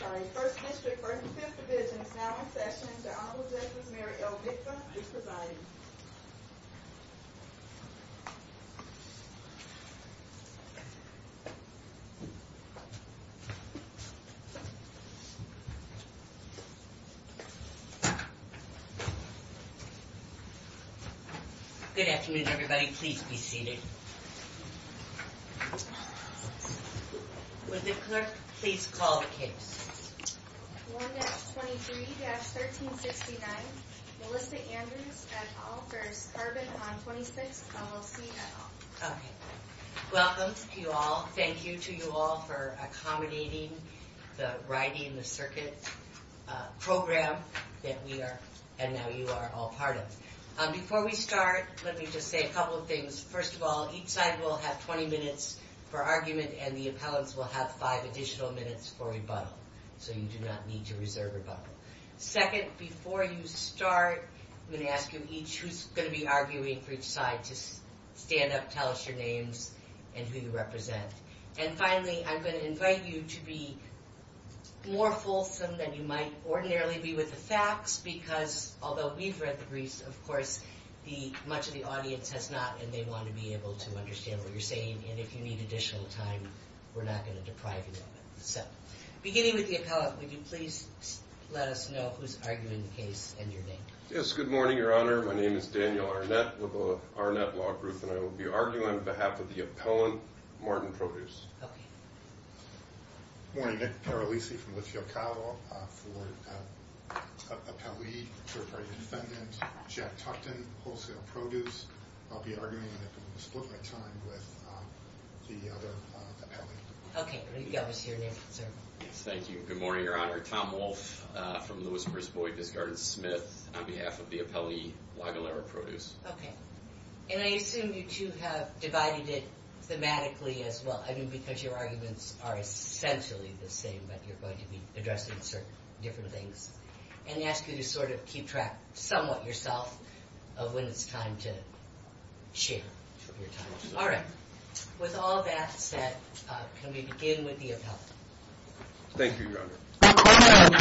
Sorry, 1st District, 1st and 5th Divisions, now in session, is the Honorable Justice Mary L. Hickler, Mr. Biden. Good afternoon, everybody. Please be seated. Was it correct? Please call the queue. 1-23-1359 Melissa Andrews v. Carbon on 26th, LLC Welcome to you all. Thank you to you all for accommodating the Riding the Circuit program that we are, and that you are all part of. Before we start, let me just say a couple of things. First of all, each side will have 20 minutes per argument, and the appellants will have 5 additional minutes for rebuttal. So you do not need to reserve rebuttal. Second, before you start, I'm going to ask you each who's going to be arguing for each side to stand up, tell us your names, and who you represent. And finally, I'm going to invite you to be more fulsome than you might ordinarily be with the facts, because although we've read the briefs, of course, much of the audience has not, and they want to be able to understand what you're saying, and if you need additional time, we're not going to deprive you. So, beginning with the appellant, would you please let us know who's arguing in your name? Yes, good morning, Your Honor. My name is Daniel Arnett with the Arnett Law Group, and I will be arguing on behalf of the appellant, Martin Produce. Good morning. I'm Carol Easey from Whitsfield Cow Law. I'll be arguing in the split-minute time with the other appellant. Thank you. Good morning, Your Honor. Tom Walsh from Lewis-Brisbois-Desjardins-Smith on behalf of the appellant, Lagalera Produce. Okay. And I assume you two have divided it thematically as well, I mean, because your arguments are essentially the same, but you're going to be addressing certain different things. And I ask you to sort of keep track somewhat yourself of when it's time to share. All right. With all that said, can we begin with the appellant? Thank you, Your Honor.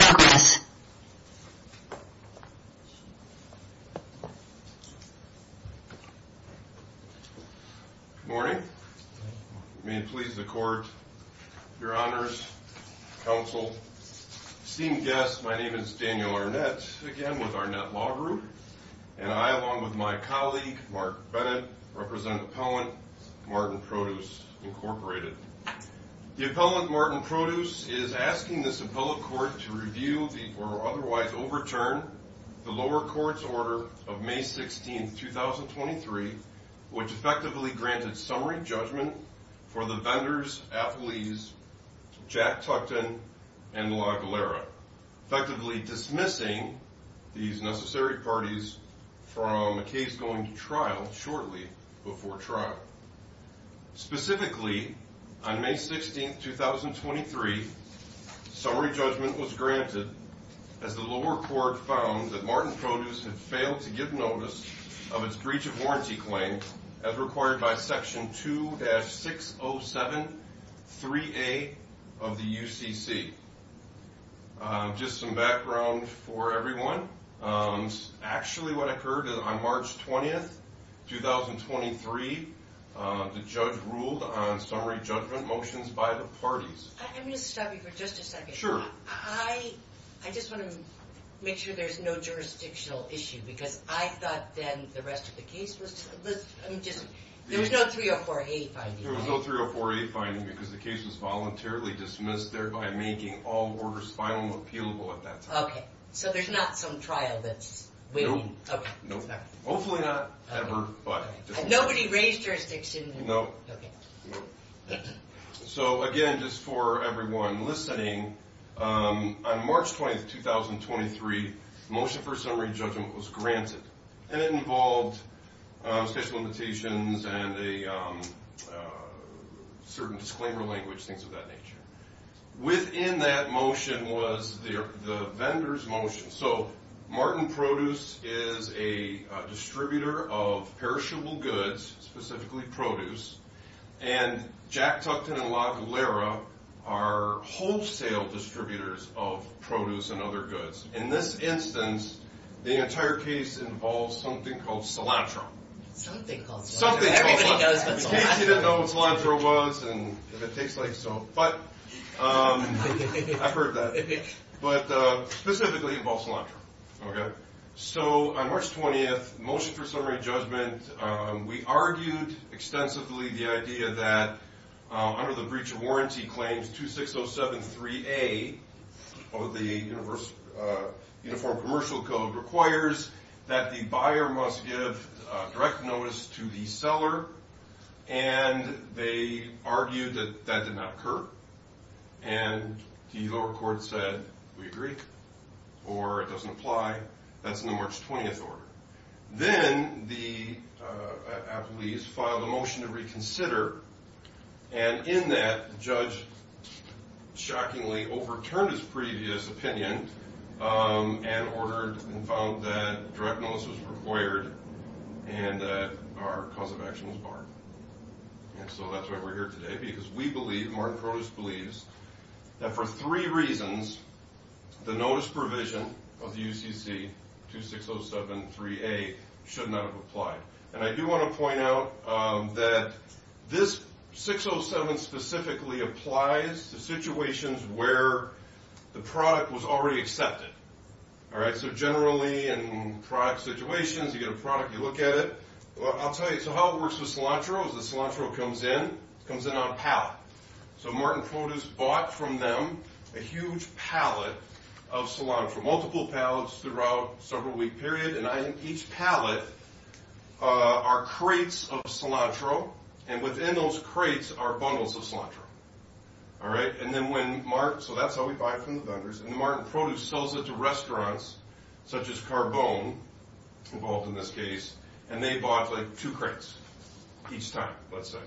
Good morning. May it please the Court, Your Honors, Counsel, esteemed guests, my name is Daniel Arnett, again with Arnett Law Group, and I, along with my colleague, Mark Bennett, represent Appellant Martin Produce, Incorporated. The appellant, Martin Produce, is asking this appellate court to review or otherwise overturn the lower court's order of May 16, 2023, which effectively granted summary judgment for the vendors, athletes, Jack Tuckton, and Lagalera, effectively dismissing these necessary parties from a case going to trial shortly before trial. Specifically, on May 16, 2023, summary judgment was granted as the lower court found that Martin Produce had failed to give notice of its breach of warranty claim as required by Section 2-607-3A of the UCC. Just some background for everyone. Actually, what I heard is on March 20, 2023, the judge ruled on summary judgment motions by the parties. Let me interrupt you for just a second. Sure. I just want to make sure there's no jurisdictional issue, because I thought then the rest of the case was... There was no 304-A finding. There was no 304-A finding, because the case was voluntarily dismissed, thereby making all orders finally appealable at that time. Okay. So there's not some trial that's... Nope. Okay. Hopefully not ever, but... Nobody raised jurisdiction... Nope. Okay. So, again, just for everyone listening, on March 20, 2023, motion for summary judgment was granted, and it involved special invitations and a certain disclaimer language, things of that nature. Within that motion was the vendor's motion. So Martin Produce is a distributor of perishable goods, specifically produce, and Jack Tuckton and Locke and Lara are wholesale distributors of produce and other goods. In this instance, the entire case involves something called cilantro. Something called cilantro. You didn't know what cilantro was and if it tastes like soap, but... I've heard that. But specifically, it involves cilantro. Okay. So on March 20, motion for summary judgment, we argued extensively the idea that, under the breach of warranty claim 26073A of the Uniform Commercial Code, requires that the buyer must give direct notice to the seller, and they argued that that did not occur, and the lower court said, we agree, or it doesn't apply. That's in the March 20th order. Then the athletes filed a motion to reconsider, and in that, the judge shockingly overturned his previous opinion and ordered and found that direct notice was required and that our cause of action was barred. And so that's why we're here today, because we believe, Martin Curtis believes, that for three reasons, the notice provision of the UCC 26073A should not have applied. And I do want to point out that this 607 specifically applies to situations where the product was already accepted. All right? So generally, in product situations, you get a product, you look at it. Well, I'll tell you, so how it works with cilantro is that cilantro comes in, comes in on a pallet. So Martin Curtis bought from them a huge pallet of cilantro, multiple pallets throughout several week period, and each pallet are crates of cilantro, and within those crates are bundles of cilantro. All right? And then when Martin, so that's how we buy it from the vendors, and Martin Curtis sells it to restaurants, such as Carbone, involved in this case, and they bought, like, two crates each time, let's say.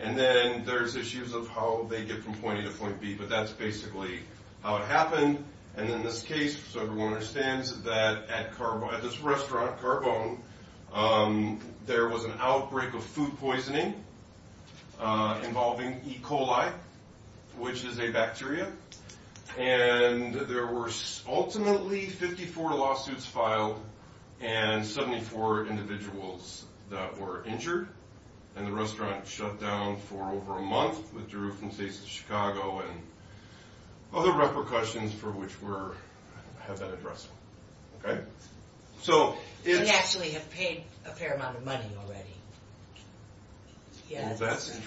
And then there's issues of how they get from point A to point B, but that's basically how it happened. And in this case, so everyone understands that at this restaurant, Carbone, there was an outbreak of food poisoning involving E. coli, which is a bacteria, and there were ultimately 54 lawsuits filed and 74 individuals that were injured, and the restaurant shut down for over a month, withdrew from the state of Chicago, and other repercussions for which we have that address. All right? So if- We actually have paid a fair amount of money already. Well, that's an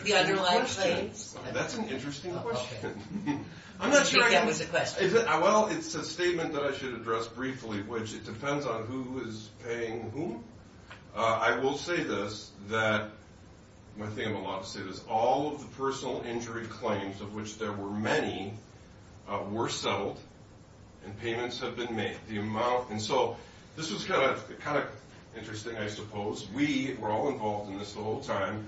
interesting question. Well, it's a statement that I should address briefly, which it depends on who is paying whom. I will say this, that my family lost it. All of the personal injury claims, of which there were many, were settled, and payments have been made. And so this is kind of interesting, I suppose. We were all involved in this the whole time,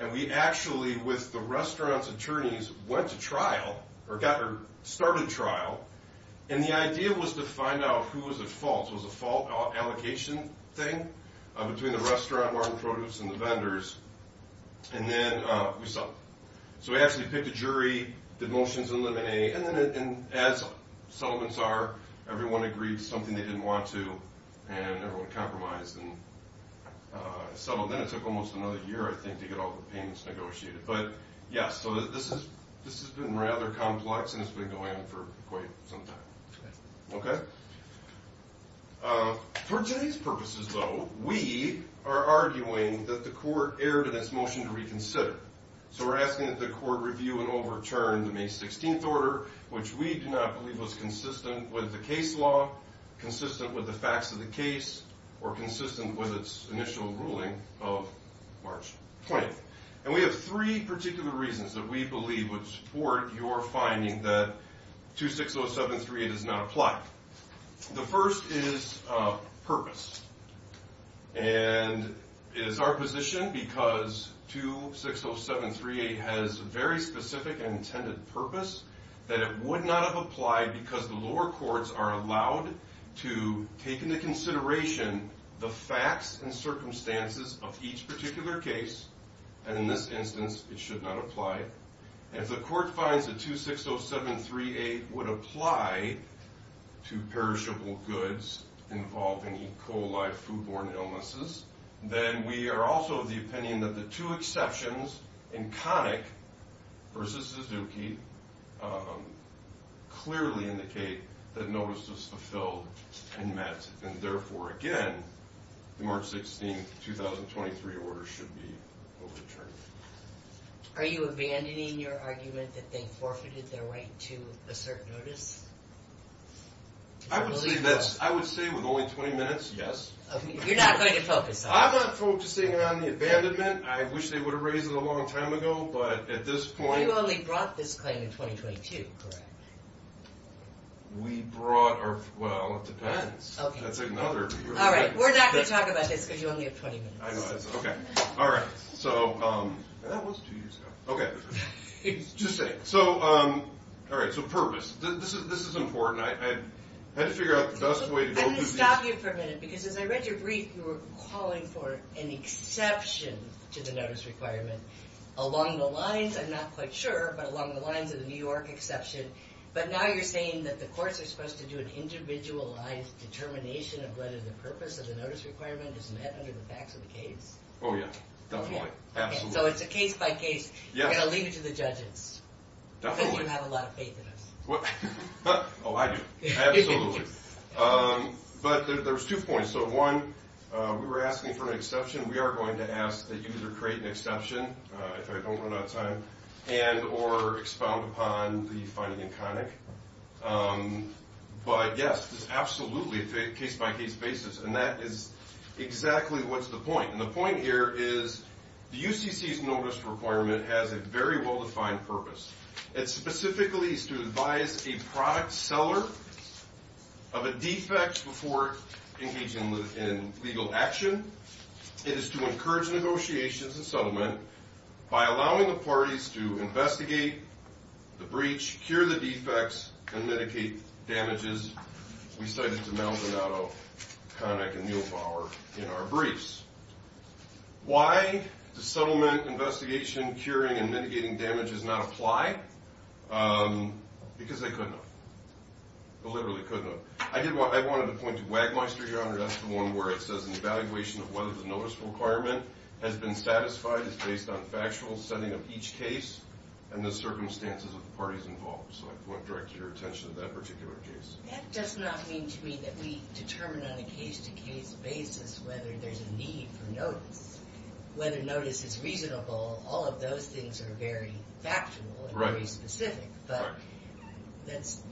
and we actually, with the restaurant, the restaurant's attorneys went to trial, or got started trial, and the idea was to find out who was at fault. So it was a fault allocation thing between the restaurant, Martin's Produce, and the vendors. And then we settled. So we actually picked a jury, did motions, and as settlements are, everyone agreed to something they didn't want to, and everyone compromised. So then it took almost another year, I think, to get all the payments negotiated. But, yeah, so this has been rather complex, and it's been going on for quite some time. Okay? For today's purposes, though, we are arguing that the court erred in its motion to reconsider. So we're asking that the court review and overturn the May 16th order, which we do not believe was consistent with the case law, consistent with the facts of the case, or consistent with its initial ruling of March 20th. And we have three particular reasons that we believe would support your finding that 260738 is not applied. The first is purpose. And it's our position, because 260738 has a very specific and intended purpose, that it would not have applied because the lower courts are allowed to take into consideration the facts and circumstances of each particular case. And in this instance, it should not apply. If the court finds that 260738 would apply to perishable goods involving E. coli, foodborne illnesses, then we are also of the opinion that the two exceptions in Connick v. Suzuki clearly indicate that notice was fulfilled and met, and therefore, again, the March 16th, 2023 order should be overturned. Are you abandoning your argument that they forfeited their right to assert notice? I would say yes. I would say with only 20 minutes, yes. You're not going to focus on that? I'm not focusing on the abandonment. I wish they would have raised it a long time ago, but at this point... You only brought this claim in 2022, correct? We brought our... well, it depends. Okay. That's another... All right, we're not going to talk about this because you only have 20 minutes. I know, I know. Okay. All right. So... That was two years ago. Okay. Just saying. So, all right, so purpose. This is important. I had to figure out the best way to go through this. Let me stop you for a minute because as I read your brief, you were calling for an exception to the notice requirement along the lines, I'm not quite sure, but along the lines of the New York exception. But now you're saying that the courts are supposed to do an individualized determination of whether the purpose of the notice requirement is met under the facts of the case. Oh, yeah. Definitely. Absolutely. So it's a case by case. Yeah. And I'll leave it to the judges. Definitely. They should have a lot of faith in us. Oh, I do. Absolutely. But there's two points. So, one, we were asking for an exception. We are going to ask that you either create an exception, if I don't run out of time, and or expound upon the finding in comic. But, yes, absolutely, it's a case by case basis. And that is exactly what's the point. And the point here is the UCC's notice requirement has a very well-defined purpose. It specifically is to advise a product seller of a defect before engaging in legal action. It is to encourage negotiations and settlement by allowing the parties to investigate the breach, cure the defects, and mitigate damages. We cited the Maldonado Conduct and Mule Power in our briefs. Why does settlement, investigation, curing, and mitigating damages not apply? Because they could not. They literally could not. I wanted to point to Wagmonster, Your Honor. That's the one where it says an evaluation of whether the notice requirement has been satisfied. It's based on factual setting of each case and the circumstances of the parties involved. So I want to direct your attention to that particular case. That does not mean to me that we determine on a case-to-case basis whether there's a need for notice, whether notice is reasonable. All of those things are very factual and very specific. Right. Is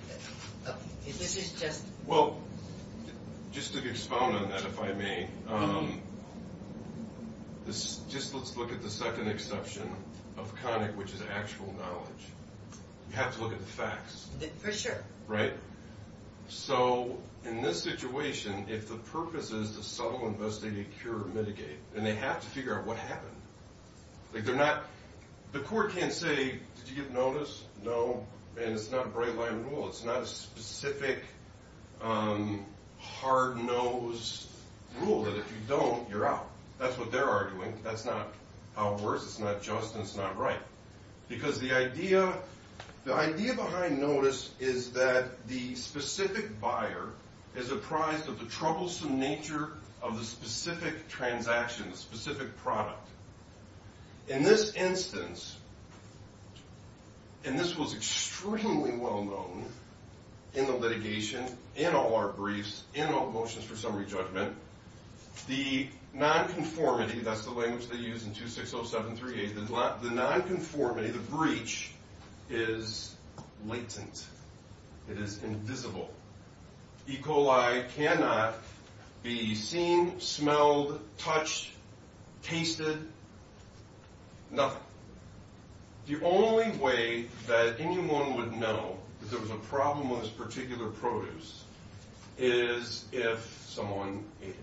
this just? Well, just to expound on that, if I may, just let's look at the second exception of comic, which is actual knowledge. You have to look at the facts. For sure. Right. So in this situation, if the purpose is to settle, investigate, cure, or mitigate, then they have to figure out what happened. Like they're not, the court can't say, did you get notice? No. And it's not a bright-line rule. It's not a specific hard-nosed rule that if you don't, you're out. That's what they're arguing. That's not how it works. It's not just, and it's not right. Because the idea behind notice is that the specific buyer is apprised of the troublesome nature of the specific transaction, specific product. In this instance, and this was extremely well-known in the litigation, in all our briefs, in all motions for summary judgment, the non-conformity, that's the language they use in 260738, the non-conformity, the breach, is latent. It is invisible. E. coli cannot be seen, smelled, touched, tasted, nothing. The only way that anyone would know that there was a problem with this particular produce is if someone ate it.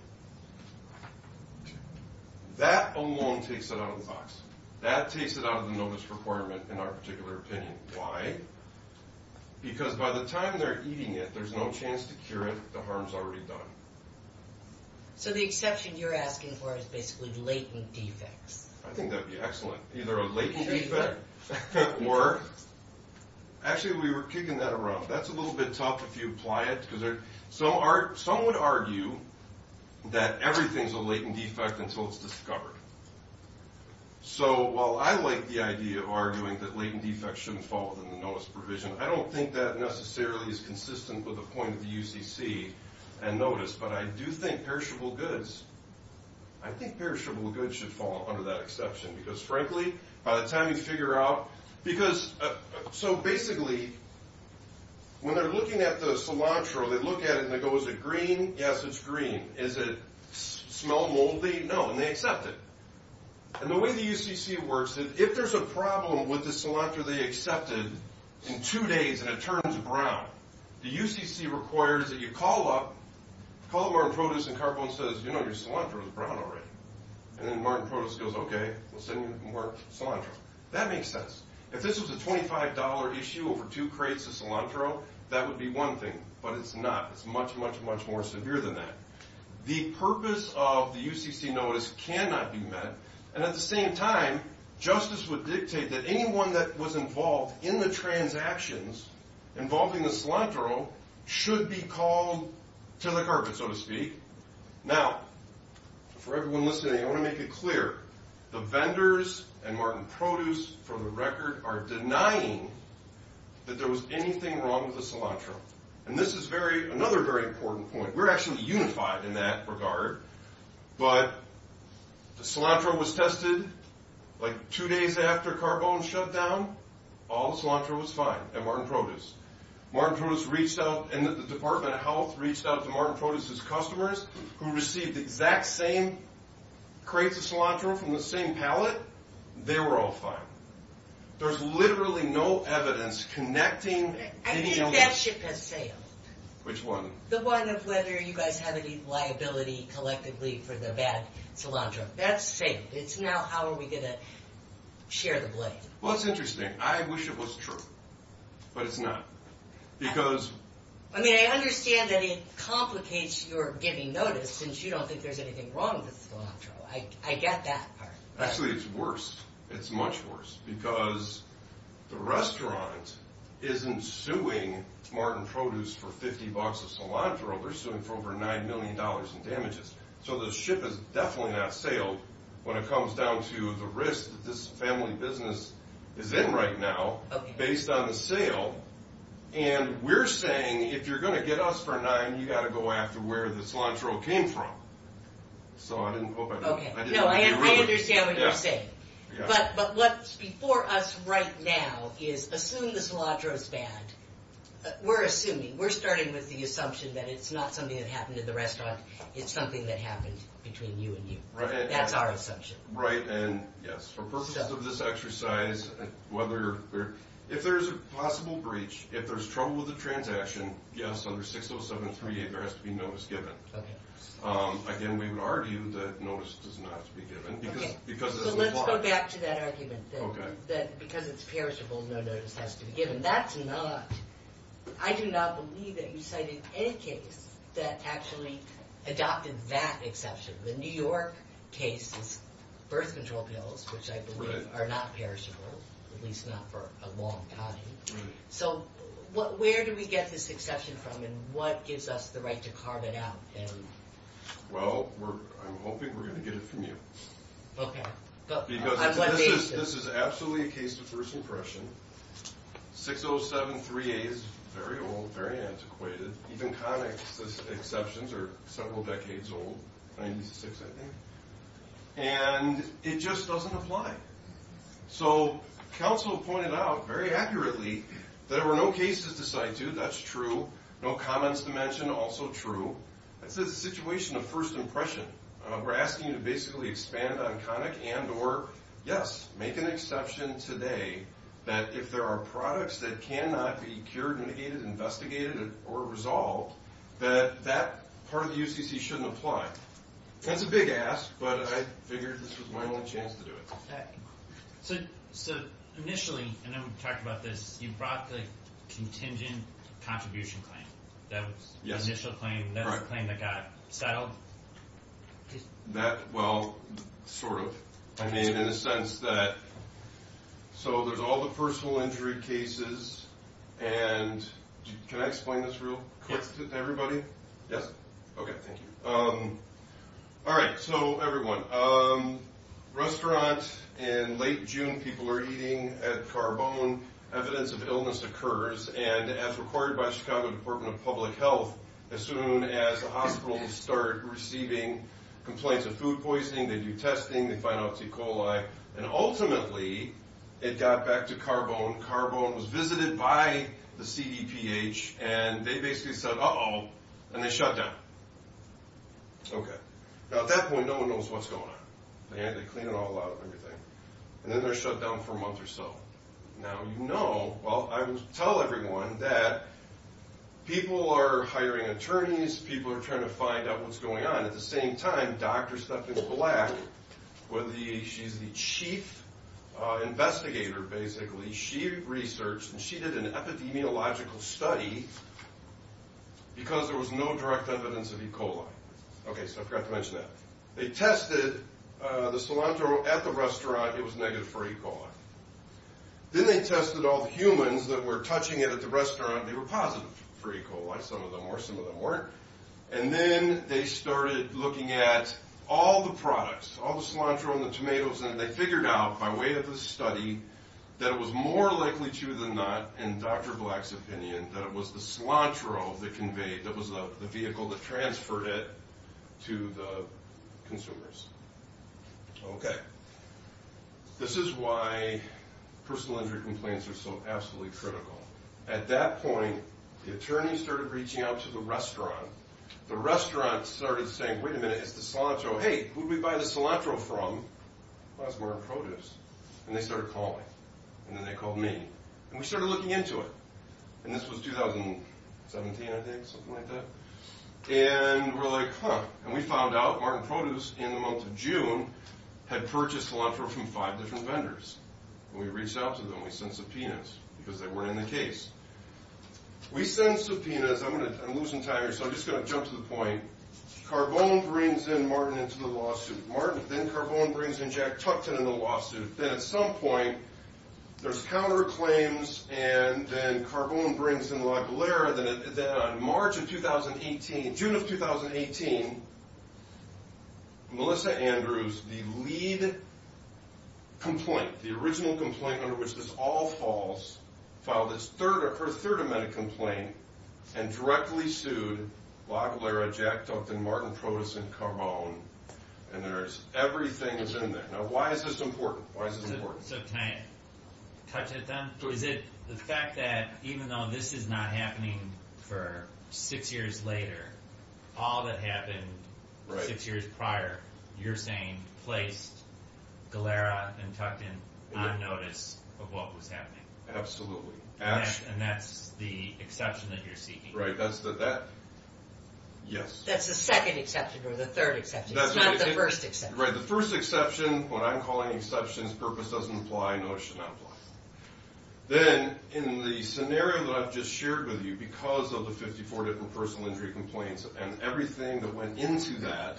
That alone takes it out of the box. That takes it out of the notice requirement in our particular opinion. Why? Because by the time they're eating it, there's no chance to cure it. The harm's already done. So the exception you're asking for is basically latent defect. I think that would be excellent. Either a latent defect or, actually, we were kicking that around. That's a little bit tough if you apply it, because some would argue that everything's a latent defect until it's discovered. So while I like the idea of arguing that latent defects shouldn't fall under the notice provision, I don't think that necessarily is consistent with the point of the UCC and notice. But I do think perishable goods, I think perishable goods should fall under that exception. Because, frankly, by the time you figure out, because, so basically, when they're looking at the cilantro, they look at it and they go, is it green? Yes, it's green. Is it smell moldy? No. And they accept it. And the way the UCC works is if there's a problem with the cilantro they accepted, in two days it turns brown. The UCC requires that you call up, call up Martin Produce and Carbone says, you know, your cilantro is brown already. And then Martin Produce goes, okay, we'll send you more cilantro. That makes sense. If this was a $25 issue over two crates of cilantro, that would be one thing. But it's not. It's much, much, much more severe than that. The purpose of the UCC notice cannot be met. And at the same time, justice would dictate that anyone that was involved in the transactions involving the cilantro should be called to the carpet, so to speak. Now, for everyone listening, I want to make it clear. The vendors and Martin Produce, for the record, are denying that there was anything wrong with the cilantro. And this is very, another very important point. We're actually unified in that regard. But the cilantro was tested, like, two days after Carbone shut down, all the cilantro was fine at Martin Produce. Martin Produce reached out and the Department of Health reached out to Martin Produce's customers who received the exact same crates of cilantro from the same pallet. They were all fine. There's literally no evidence connecting. I think that ship has sailed. Which one? The one of whether you guys have any liability collectively for the bad cilantro. That's safe. It's not how are we going to share the blame. Well, it's interesting. I wish it was true. But it's not. Because... I mean, I understand that it complicates your giving notice since you don't think there's anything wrong with the cilantro. I get that part. Actually, it's worse. It's much worse. Because the restaurant isn't suing Martin Produce for 50 bucks of cilantro. We're suing for over $9 million in damages. So the ship has definitely not sailed when it comes down to the risk that this family business is in right now based on a sale. And we're saying if you're going to get us for a dime, you've got to go after where the cilantro came from. So I didn't put my thumbs up. No, I understand what you're saying. But what's before us right now is assume the cilantro is bad. We're assuming. We're starting with the assumption that it's not something that happened at the restaurant. It's something that happened between you and me. That's our assumption. Right. And, yes, for purposes of this exercise, if there's a possible breach, if there's trouble with the transaction, yes, under 60738, there has to be notice given. Again, we would argue that notice does not have to be given. Okay. So let's go back to that argument that because it's perishable, no notice has to be given. That's not. I do not believe that you cited any case that actually adopted that exception. The New York case is birth control pills, which I believe are not perishable, at least not for a long time. So where do we get this exception from, and what gives us the right to carve it out? Well, I'm hoping we're going to get it from you. Okay. Because this is absolutely a case of first impression. 60738 is very old, very antiquated. Even con exceptions are several decades old, 96, I think. And it just doesn't apply. So counsel pointed out very accurately that there were no cases to cite, too. That's true. No comments to mention, also true. That's a situation of first impression. We're asking you to basically expand on comic and or, yes, make an exception today that if there are products that cannot be cured, mitigated, investigated, or resolved, that that part of the UCC shouldn't apply. That's a big ask, but I figured this was my little chance to do it. Okay. So initially, and then we've talked about this, you brought the contingent contribution claim. Yes. The initial claim. Correct. That's the claim that got filed? That, well, sort of. Okay. In the sense that, so there's all the personal injury cases, and can I explain this real quick to everybody? Yes. Okay. Thank you. All right. So everyone, restaurants in late June, people were eating at Carbone. Evidence of illness occurs, and as reported by Chicago Department of Public Health, as soon as the hospital started receiving complaints of food poisoning, they do testing, they find out it's E. coli, and ultimately it got back to Carbone. Carbone was visited by the CDPH, and they basically said, uh-oh, and they shut down. Okay. Now, at that point, no one knows what's going on. They cleaned it all out and everything, and then they shut down for a month or so. Now, you know, well, I would tell everyone that people are hiring attorneys, people are trying to find out what's going on. At the same time, Dr. Stephanie Black, she's the chief investigator, basically. She researched, and she did an epidemiological study because there was no direct evidence of E. coli. Okay, so I forgot to mention that. They tested the cilantro at the restaurant. It was negative for E. coli. Then they tested all the humans that were touching it at the restaurant. They were positive for E. coli. Some of them were. Some of them weren't. And then they started looking at all the products, all the cilantro and the tomatoes, and they figured out, by way of the study, that it was more likely true than not, in Dr. Black's opinion, that it was the cilantro that conveyed, that was the vehicle that transferred it to the consumers. Okay. This is why personal injury complaints are so absolutely critical. At that point, the attorneys started reaching out to the restaurant. The restaurant started saying, wait a minute, it's the cilantro. Hey, who did we buy the cilantro from? Well, it's Martin Produce. And they started calling. And then they called me. And we started looking into it. And this was 2017, I think, something like that. And we're like, huh. And we found out Martin Produce, in the month of June, had purchased cilantro from five different vendors. And we reached out to them. We sent subpoenas, because they weren't in the case. We sent subpoenas. I'm losing time here, so I'm just going to jump to the point. Carbone brings in Martin into the lawsuit. Then Carbone brings in Jack Tuckton in the lawsuit. Then at some point, there's counterclaims, and then Carbone brings in La Galera. In June of 2018, Melissa Andrews, the lead complainant, the original complainant under which this all falls, filed her third amendment complaint and directly sued La Galera, Jack Tuckton, Martin Produce, and Carbone. And everything is in there. Now, why is this important? Can I touch this on? Is it the fact that even though this is not happening for six years later, all that happened six years prior, you're saying placed La Galera and Tuckton on notice of what was happening? Absolutely. And that's the exception that you're seeking? Right. Yes. That's the second exception or the third exception, not the first exception. Right. The first exception, what I'm calling exceptions, purpose doesn't apply, nor should not apply. Then in the scenario that I've just shared with you, because of the 54 different personal injury complaints and everything that went into that,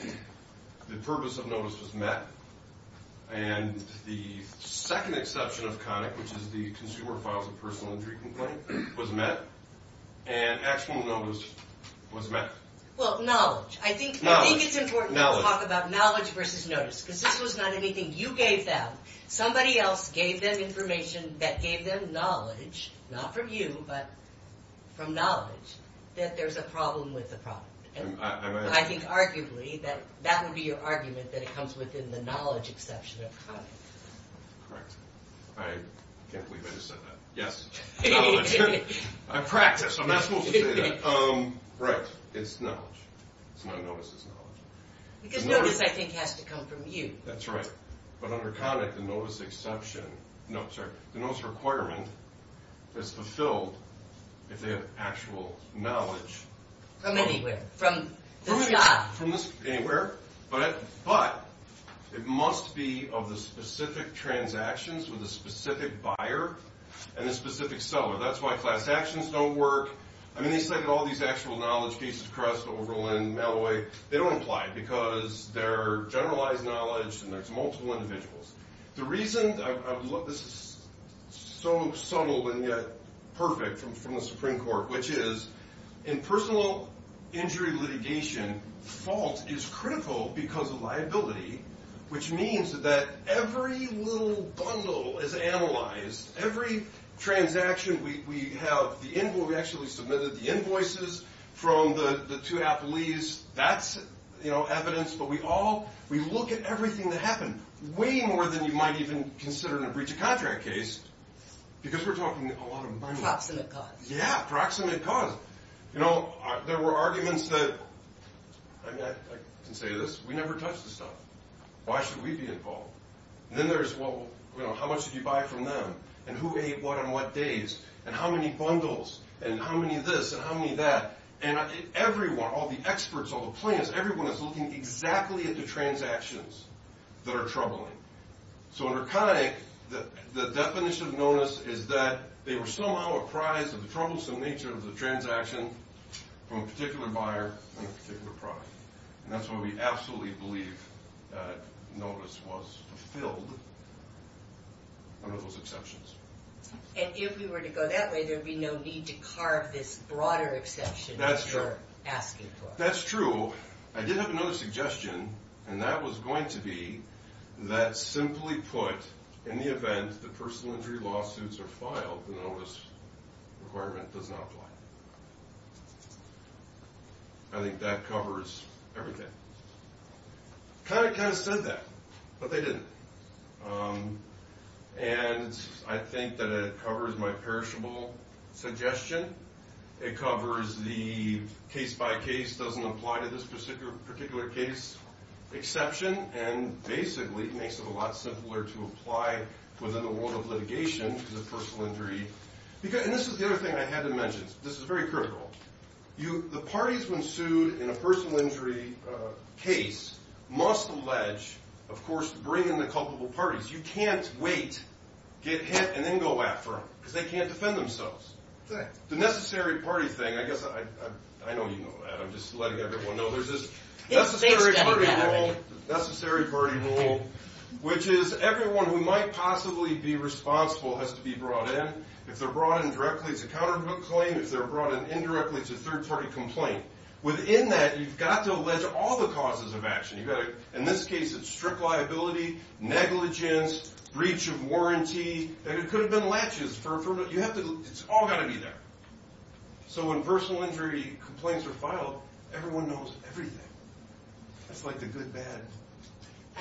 the purpose of notice was met. And the second exception of CONIC, which is the Consumer Files of Personal Injury Complaint, was met. And actual notice was met. Well, knowledge. I think it's important to talk about knowledge versus notice, because this was not anything you gave them. Somebody else gave them information that gave them knowledge, not from you, but from knowledge, that there's a problem with the problem. And I think arguably that would be your argument that it comes within the knowledge exception of CONIC. Right. I can't believe I just said that. Yes. I practice. I'm not fooling you. Right. It's knowledge. It's not notice. It's knowledge. Because notice, I think, has to come from you. That's right. But under CONIC, the notice exception, no, sorry, the notice requirement is fulfilled if they have actual knowledge. From anywhere. From the job. From anywhere. But it must be of the specific transactions with the specific buyer and the specific seller. That's why transactions don't work. I mean, all these actual knowledge pieces, Crest, Oberlin, Malloway, they don't apply because they're generalized knowledge and there's multiple individuals. The reason, this is so subtle and yet perfect from the Supreme Court, which is in personal injury litigation, fault is critical because of liability, which means that every little bundle is analyzed, every transaction we have, we actually submitted the invoices from the two affilies, that's evidence, but we look at everything that happened way more than you might even consider in a breach of contract case because we're talking a lot of money. Approximate cause. Yeah, approximate cause. You know, there were arguments that, I can say this, we never touch the stuff. Why should we be involved? Then there's, well, how much did you buy from them? And who made what on what days? And how many bundles? And how many this and how many that? And everyone, all the experts, all the plaintiffs, everyone is looking exactly at the transactions that are troubling. So in Arconic, the definition of illness is that they were somehow apprised of the troublesome nature of the transaction from a particular buyer and a particular product. And that's why we absolutely believe that notice was fulfilled under those exceptions. And if we were to go that way, there would be no need to carve this broader exception that you're asking for. That's true. I did have another suggestion, and that was going to be that simply put, in the event that personal injury lawsuits are filed, the notice requirement does not apply. I think that covers everything. I kind of said that, but they didn't. And I think that it covers my perishable suggestion. It covers the case-by-case doesn't apply to this particular case exception, and basically makes it a lot simpler to apply for the award of litigation for the personal injury. And this is the other thing I haven't mentioned. This is very critical. The parties when sued in a personal injury case must allege, of course, to bring in the culpable parties. You can't wait, get hit, and then go after them because they can't defend themselves. The necessary party thing, I guess I don't even know that. I'm just letting everyone know there's this necessary party rule, which is everyone who might possibly be responsible has to be brought in. If they're brought in directly, it's a counterclaim. If they're brought in indirectly, it's a third-party complaint. Within that, you've got to allege all the causes of action. In this case, it's strict liability, negligence, breach of warranty, and it could have been latches. It's all got to be there. So when personal injury complaints are filed, everyone knows everything. It's like the good-bad.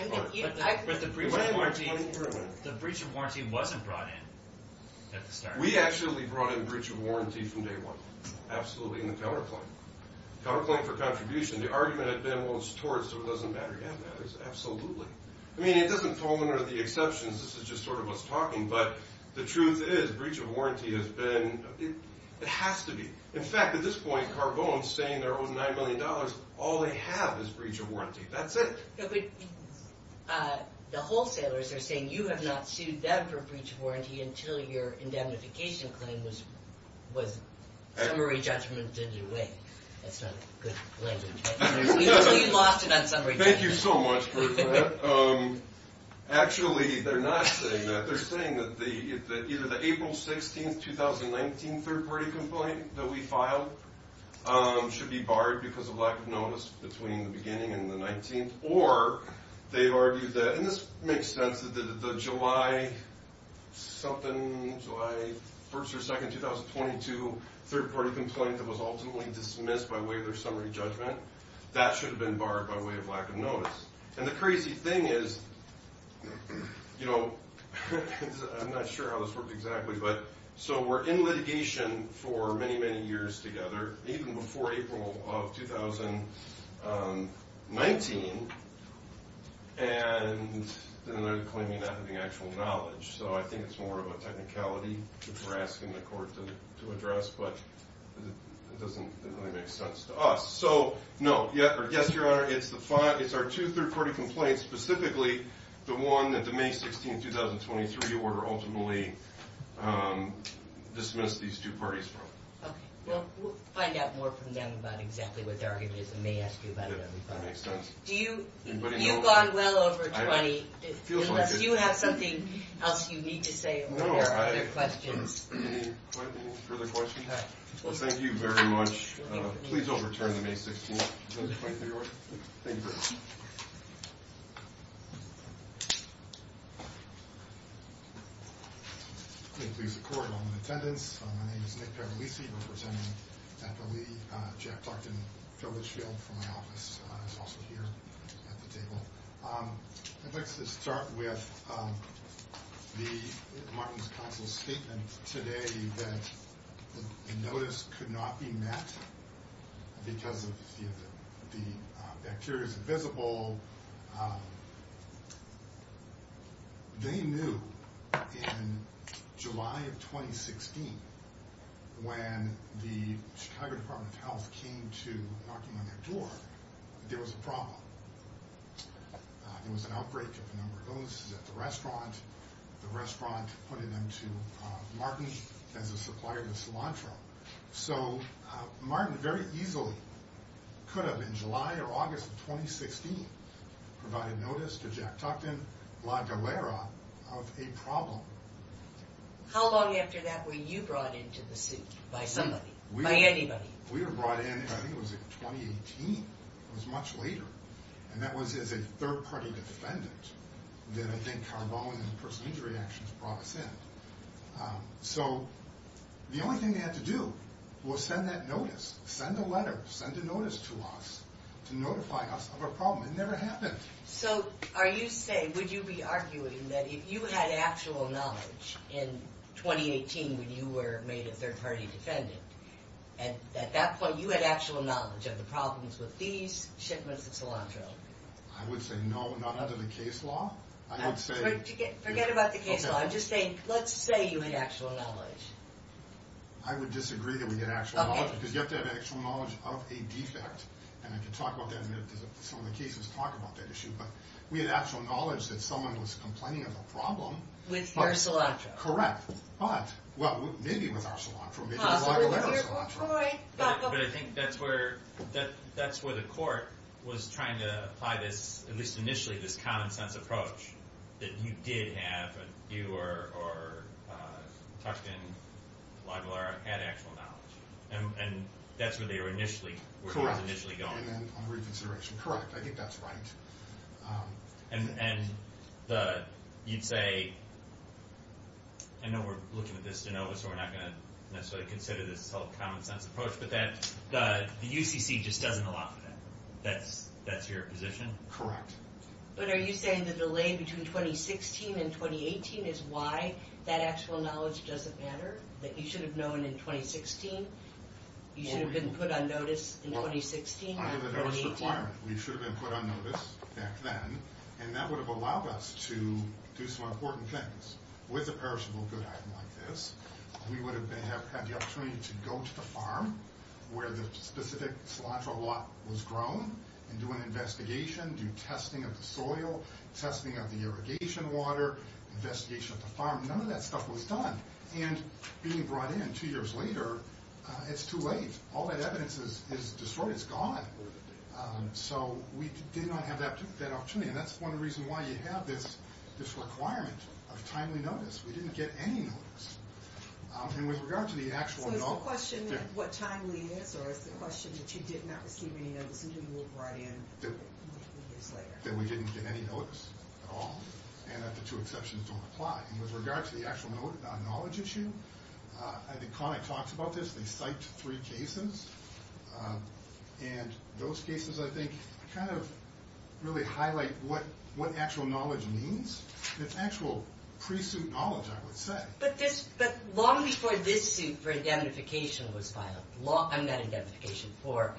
The breach of warranty wasn't brought in at the start. We actually brought in breach of warranty from day one. Absolutely in the counterclaim. Counterclaim for contribution. The argument has been, well, it's tort, so it doesn't matter. Yeah, it is. Absolutely. I mean, it doesn't tolerate the exceptions. This is just sort of us talking, but the truth is breach of warranty has been – it has to be. In fact, at this point, Carbone is saying they're owed $9 million. All they have is breach of warranty. That's it. The wholesalers are saying you have not sued them for breach of warranty until your indemnification claim was summary judgment in due date. That's a good claim. You lost it on summary judgment. Thank you so much for that. Actually, they're not saying that. They're saying that either the April 16, 2019 third-party complaint that we filed should be barred because of lack of notice between the beginning and the 19th, or they've argued that, and this makes sense, that the July something, July 1st or 2nd, 2022, third-party complaint that was ultimately dismissed by way of their summary judgment, that should have been barred by way of lack of notice. And the crazy thing is, you know, I'm not sure how this worked exactly, but so we're in litigation for many, many years together, even before April of 2019, and they're claiming not having actual knowledge. So I think it's more of a technicality that they're asking the court to address, but it doesn't really make sense to us. So, no, yes, Your Honor, it's our two third-party complaints, and specifically the one that the May 16, 2023 order ultimately dismissed these two parties from. We'll find out more from them about exactly what the argument is and may ask you about it. That makes sense. You've gone well over 20. Do you have something else you need to say, or are there other questions? Any further questions? Well, thank you very much. Please don't return the May 16. Thank you very much. Thank you for your support and attendance. My name is Nick Carolisi, representing FOMC. Jack Barton from my office is also here at this table. I'd like to start with the Martins Council's statement today that the notice could not be met because it appears visible. They knew in July of 2016, when the Chicago Department of Health came to document their floor, there was a problem. There was an outbreak of a number of illnesses at the restaurant. The restaurant appointed them to Martin's, which has a supplier of cilantro. So Martin very easily could have, in July or August of 2016, provided notice to Jack Tufton, La Gallera, of a problem. How long after that were you brought into the suit by somebody, by anybody? We were brought in, I think it was in 2018. It was much later. And that was as a third-party defendant. Then I think Carbone's personal injury actions brought us in. So the only thing they had to do was send that notice. Send a letter, send a notice to us to notify us of a problem. It never happened. So are you saying, would you be arguing that if you had actual knowledge in 2018 when you were made a third-party defendant, at that point you had actual knowledge of the problems with these shipments of cilantro? I would say no, not under the case law. Forget about the case law. I'm just saying, let's say you had actual knowledge. I would disagree that we had actual knowledge. Because you have to have actual knowledge of a defendant. And we can talk about that in some of the cases, talk about that issue. But we had actual knowledge that someone was complaining of a problem. With your cilantro? Correct. But, well, maybe with our cilantro. But I think that's where the court was trying to apply this, at least initially, this common-sense approach. That you did have, you or Tushkin had actual knowledge. And that's where they were initially going. Correct. I think that's right. And you'd say, I know we're looking at this, so we're not going to necessarily consider this a common-sense approach. But the UCC just doesn't allow for that. That's your position? Correct. But are you saying the delay between 2016 and 2018 is why that actual knowledge doesn't matter? That you should have known in 2016? You should have been put on notice in 2016? We should have been put on notice back then. And that would have allowed us to do some important things. With a perishable good like this, we would have had the opportunity to go to the farm where the specific cilantro lot was grown, and do an investigation, do testing of the soil, testing of the irrigation water, investigation of the farm. None of that stuff was done. And being brought in two years later, it's too late. All that evidence is destroyed. It's gone. So we did not have that opportunity. And that's one of the reasons why you have this requirement of timely notice. We didn't get any notice. I mean, with regard to the actual knowledge. But the question of what time we missed, or the question that you did not receive any notice, you didn't move right in. That we didn't get any notice at all, and that the two exceptions don't apply. And with regard to the actual knowledge issue, I think Connie talks about this. They cite three cases. And those cases, I think, kind of really highlight what actual knowledge means. And it's actual pre-suit knowledge, I would say. But long before this suit for indemnification was filed, not indemnification, for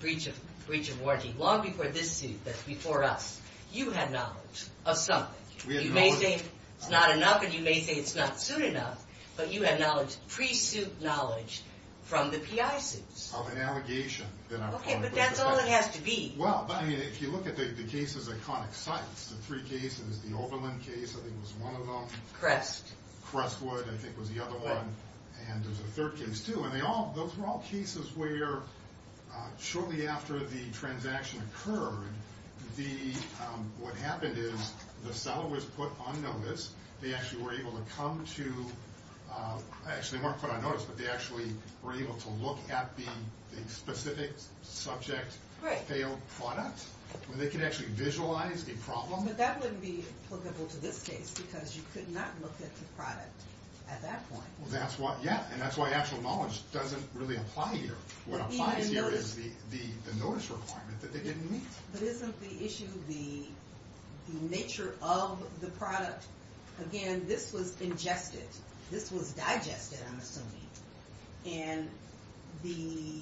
breach of warranty, long before this suit, but before us, you had knowledge of something. You may think it's not enough, and you may think it's not soon enough, but you had knowledge, pre-suit knowledge from the PI suits. Of an allegation. Okay, but that's all it has to be. Well, I mean, if you look at the cases that Connie cites, the three cases, the Oberlin case, I think it was one of them. Crest. Crestwood, I think was the other one. And there's a third case, too. And those were all cases where shortly after the transaction occurred, what happened is the seller was put on notice. They actually were able to come to Crest. They weren't put on notice, but they actually were able to look at the specific subject. Right. Their product. And they could actually visualize the problem. But that wouldn't be applicable to this case because you could not look at the product at that point. Yeah, and that's why actual knowledge doesn't really apply here. What applies here is the notice requirement that they didn't meet. But isn't the issue the nature of the product? Again, this was injected. This was digested, I'm assuming. And the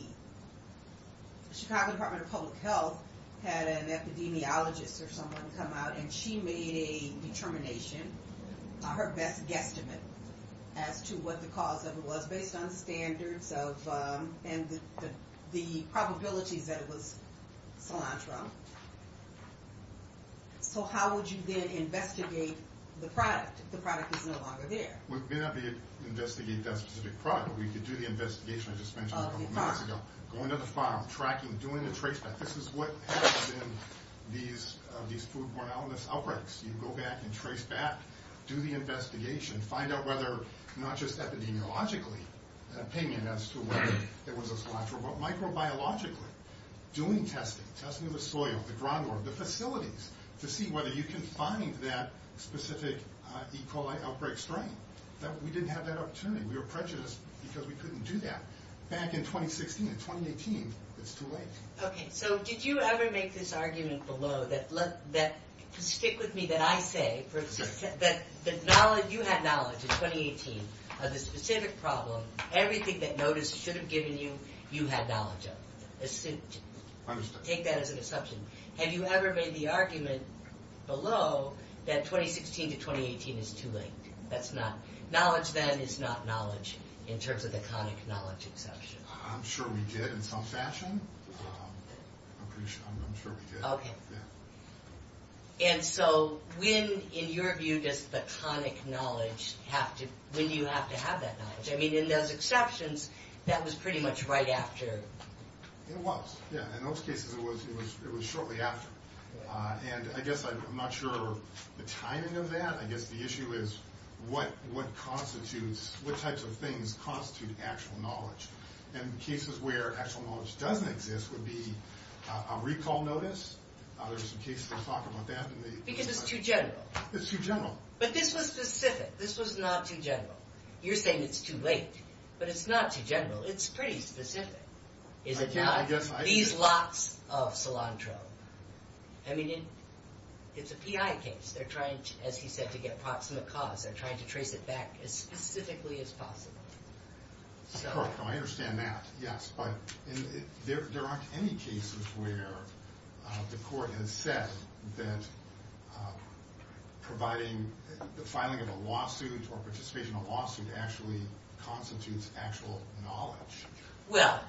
Chicago Department of Public Health had an epidemiologist or someone come out, and she made a determination, her best guesstimate, as to what the cause of it was based on the standards of the probability that it was cilantro. So how would you then investigate the product if the product is no longer there? We may not be able to investigate that specific product, but we could do the investigation and suspension of the product. Going to the farm, tracking, doing the trace back. This is what happens in these foodborne illness outbreaks. You go back and trace back, do the investigation, find out whether, not just epidemiologically, in my opinion as to whether there was a cilantro, but microbiologically, doing testing. Testing the soil, the groundwork, the facilities, to see whether you can find that specific E. coli outbreak strain. We didn't have that opportunity. We were prejudiced because we couldn't do that. Back in 2016, 2018, it's too late. Okay, so did you ever make this argument below that, stick with me, that I say that you had knowledge in 2018 of the specific problem, everything that NODIS should have given you, you had knowledge of. Assume it. Take that as an assumption. Have you ever made the argument below that 2016 to 2018 is too late? That's not, knowledge then is not knowledge in terms of the conic knowledge assumption. I'm sure we did in some fashion. I'm pretty sure we did. Okay. And so when, in your view, does the conic knowledge have to, when do you have to have that knowledge? I mean, in those exceptions, that was pretty much right after. It was, yeah. In those cases, it was shortly after. And I guess I'm not sure of the timing of that. I guess the issue is what constitutes, what types of things constitute actual knowledge. And cases where actual knowledge doesn't exist would be a recall notice. There's some cases for a soccer month after the... Because it's too general. It's too general. But this was specific. This was not too general. You're saying it's too late. But it's not too general. It's pretty specific. These lots of cilantro. I mean, it's a PI case. They're trying, as he said, to get approximate cause. They're trying to trace it back as specifically as possible. Correct. I understand that, yes. But there aren't any cases where the court has said that providing, the filing of a lawsuit or participation in a lawsuit actually constitutes actual knowledge. Well,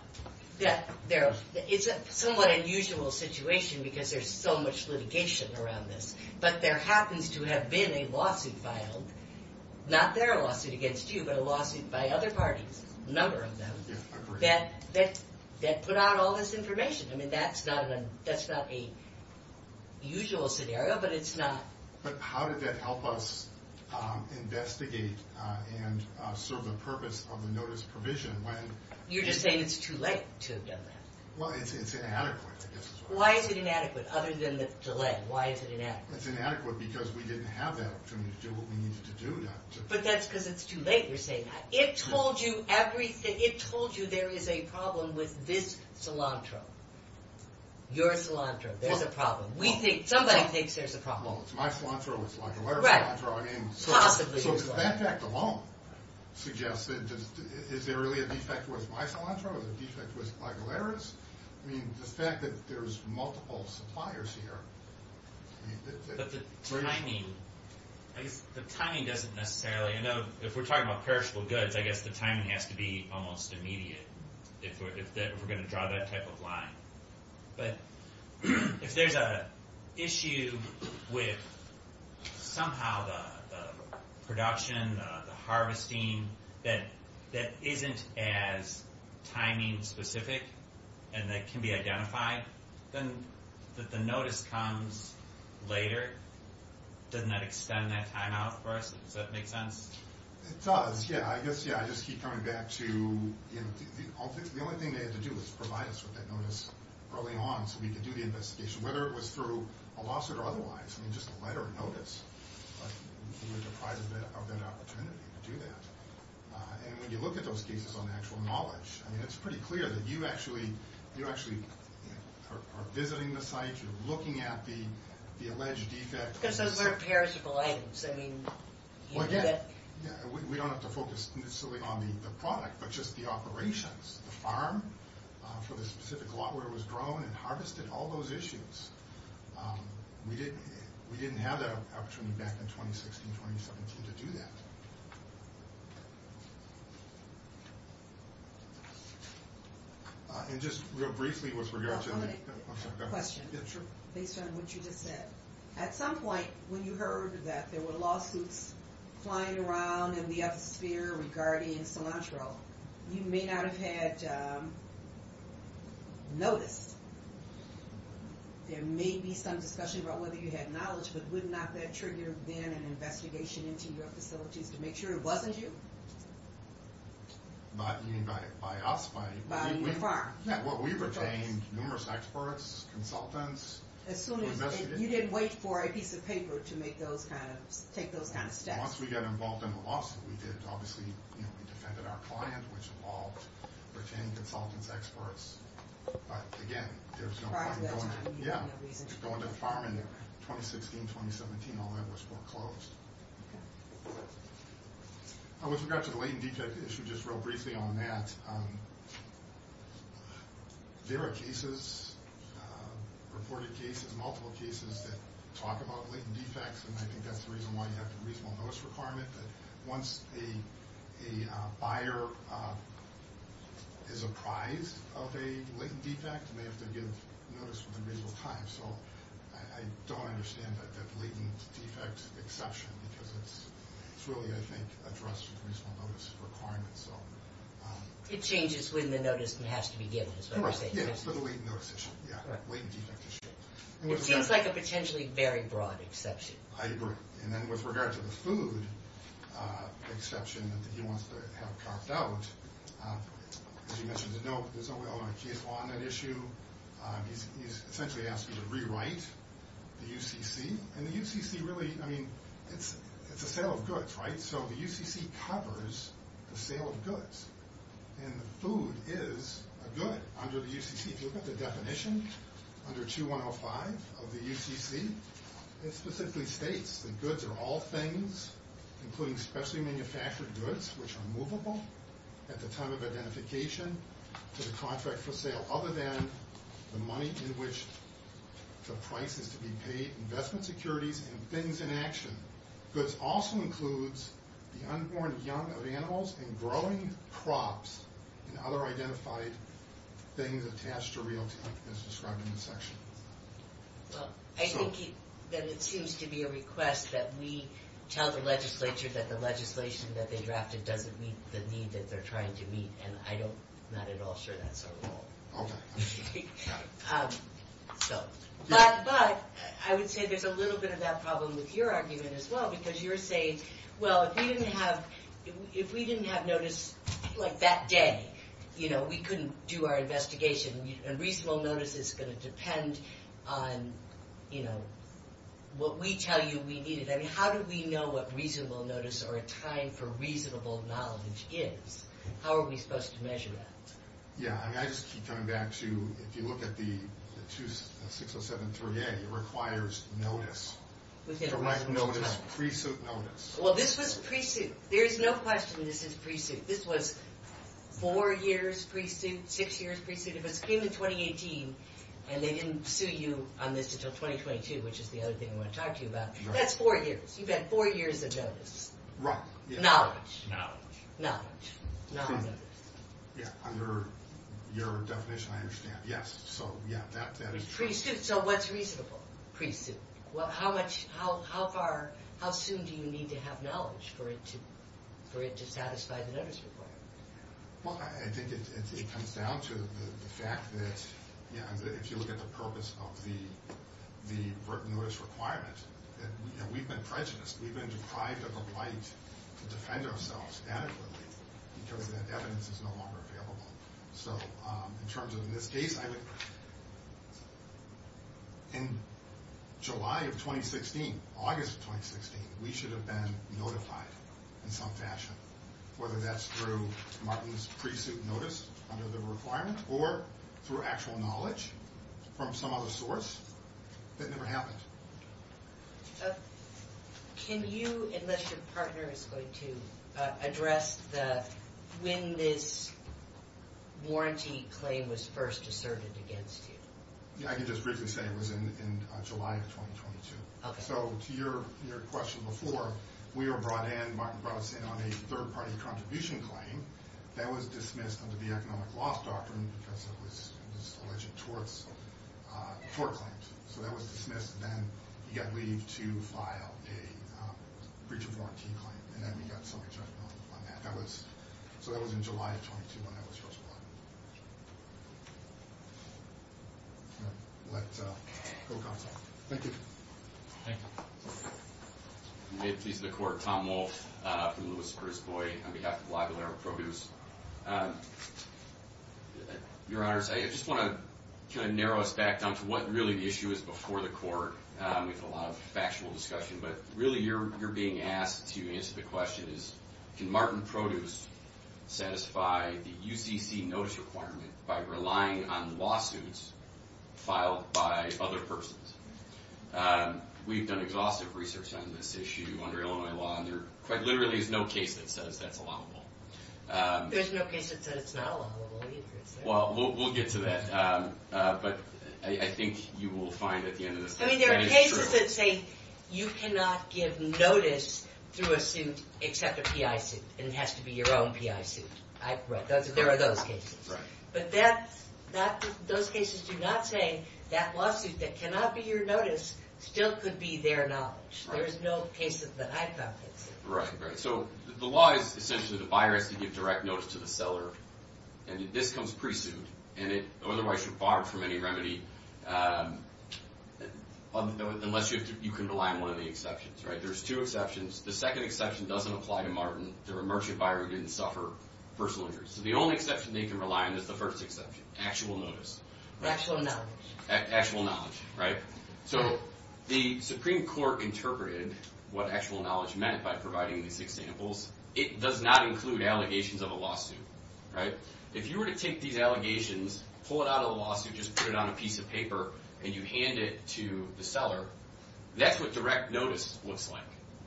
it's a somewhat unusual situation because there's so much litigation around this. But there happens to have been a lawsuit filed, not their lawsuit against you, but a lawsuit by other parties, a number of them, that put out all this information. I mean, that's not the usual scenario, but it's not. But how did that help us investigate and serve the purpose of the notice provision? You're just saying it's too late to have done that. Well, it's inadequate, I guess. Why is it inadequate other than to let? Why is it inadequate? It's inadequate because we didn't have that opportunity to do what we needed to do. But that's because it's too late. You're saying that. It told you everything. It told you there is a problem with this cilantro, your cilantro. There's a problem. Somebody thinks there's a problem. My cilantro looks like hilarious. Possibly. That fact alone suggests that is there really a defect with my cilantro? Is it a defect with Michael Harris? I mean, the fact that there's multiple suppliers here. But the timing doesn't necessarily. I know if we're talking about perishable goods, I guess the timing has to be almost immediate if we're going to draw that type of line. But if there's an issue with somehow the production, the harvesting, that isn't as timing specific and that can be identified, then the notice comes later. Doesn't that extend that time out for us? Does that make sense? I guess, yeah. The only thing they had to do was provide us with that notice early on so we could do the investigation, whether it was through a lawsuit or otherwise. I mean, just a letter of notice. And when you look at those cases on actual knowledge, I mean, it's pretty clear that you actually are visiting the site. You're looking at the alleged defect. Because those weren't perishable items. I mean, you did it. We don't have to focus necessarily on the product, but just the operations. The farm for the specific lot where it was grown and harvested, all those issues. We didn't have that opportunity back in 2016, 2017 to do that. And just real briefly with regard to the- I have a question based on what you just said. At some point when you heard that there were lawsuits flying around in the atmosphere regarding cilantro, you may not have had notice. There may be some discussion about whether you had knowledge, but would not that trigger then an investigation into your facility to make sure it wasn't you? Not by us, but- By the farm. We retained numerous experts, consultants. As soon as- You didn't wait for a piece of paper to make those kind of- take those kind of steps. Once we got involved in the lawsuit, we did. Obviously, we defended our client, which involved retaining consultants, experts. But, again, there was no- The farm that time. Yeah. The farm in 2016, 2017, all of that was foreclosed. With regard to the latent defect issue, just real briefly on that, there are cases, reported cases, multiple cases that talk about latent defects, and I think that's the reason why you have the reasonable notice requirement. Once a buyer is apprised of a latent defect, they have to give notice with invisible time. So I don't understand that latent defect exception, because it's really, I think, addressed with reasonable notice requirement. It changes when the notice has to be given. It seems like a potentially very broad exception. I agree. And then with regard to this food exception that you want us to have talked about, as you mentioned, there's no relevant case on that issue. He's essentially asking to rewrite the UCC. And the UCC really, I mean, it's a sale of goods, right? So the UCC covers the sale of goods. And food is a good under the UCC. Look at the definition under 2105 of the UCC. It specifically states that goods are all things, including specially manufactured goods, which are movable at the time of identification to the contract for sale, other than the money in which the price is to be paid, investment securities, and things in action. Goods also includes the unborn young of animals and growing crops and other identified things attached to real estate as described in the section. Well, I think that it seems to be a request that we tell the legislature that the legislation that they drafted doesn't meet the need that they're trying to meet. And I'm not at all sure that's what we want. Okay. But I would say there's a little bit of that problem with your argument as well, because you're saying, well, if we didn't have notice like that day, you know, we couldn't do our investigation. A reasonable notice is going to depend on, you know, what we tell you we need. I mean, how do we know what reasonable notice or a time for reasonable knowledge is? How are we supposed to measure that? Yeah, and I just keep coming back to, if you look at the 607-38, it requires notice. Correct notice, pre-suit notice. Well, this was pre-suit. There's no question this is pre-suit. This was four years pre-suit, six years pre-suit. If it came in 2018 and they didn't sue you on this until 2022, which is the other thing I want to talk to you about, that's four years. Right. Knowledge. Knowledge. Knowledge. Yeah, under your definition, I understand. Yes, so, yeah, that is pre-suit. So what's reasonable pre-suit? Well, how much, how far, how soon do you need to have knowledge for it to satisfy the notice report? Well, I think it comes down to the fact that, yeah, if you look at the purpose of the important notice requirements, we've been prejudiced. We've been deprived of the right to defend ourselves adequately, because the evidence is no longer available. So in terms of the date, I think in July of 2016, August of 2016, we should have been notified in some fashion, whether that's through Martin's pre-suit notice under the requirements or through actual knowledge from some other source. That never happened. Can you, unless your partner is going to address the, when this warranty claim was first asserted against you? Yeah, I can just briefly say it was in July of 2022. Okay. So to your question before, we were brought in, Martin brought us in on a third-party contribution claim that was dismissed under the Economic Loss Doctrine because it was alleged towards tort claims. So that was dismissed, and then you got to leave to file a breach of warranty claim. And then we got sort of jumped in on that. So that was in July of 2022 when that was first filed. Okay. Let's go with that one. Thank you. Thank you. This is the Court. Tom Wolfe from Lewis versus Boyd. And we have a lot of our programs. Your Honors, I just want to kind of narrow us back down to what really the issue is before the Court with a lot of factual discussion. But really, you're being asked a few minutes of the questions. Can Martin Produce satisfy the UCC notice requirement by relying on lawsuits filed by other persons? We've done exhaustive research on this issue under Illinois law, and there quite literally is no case that says that's allowable. There's no case that says it's not allowable, either. Well, we'll get to that. But I think you will find at the end of this that it's true. I mean, there are cases that say you cannot give notice to a suit except a PI suit, and it has to be your own PI suit. There are those cases. But those cases do not say that lawsuits that cannot be your notice still could be their knowledge. There's no cases that I've found. Right, right. So the law is essentially the buyer has to give direct notice to the seller. And this comes pretty soon. In other words, you're barred from any remedy unless you can rely on one of the exceptions, right? There's two exceptions. The second exception doesn't apply to Martin. Their emergency buyer didn't suffer personal injuries. So the only exception they can rely on is the first exception, actual notice. Actual knowledge. Actual knowledge, right? So the Supreme Court interpreted what actual knowledge meant by providing these examples. It does not include allegations of a lawsuit, right? If you were to take these allegations, pull it out of the lawsuit, just put it on a piece of paper, and you hand it to the seller, that's what direct notice looks like,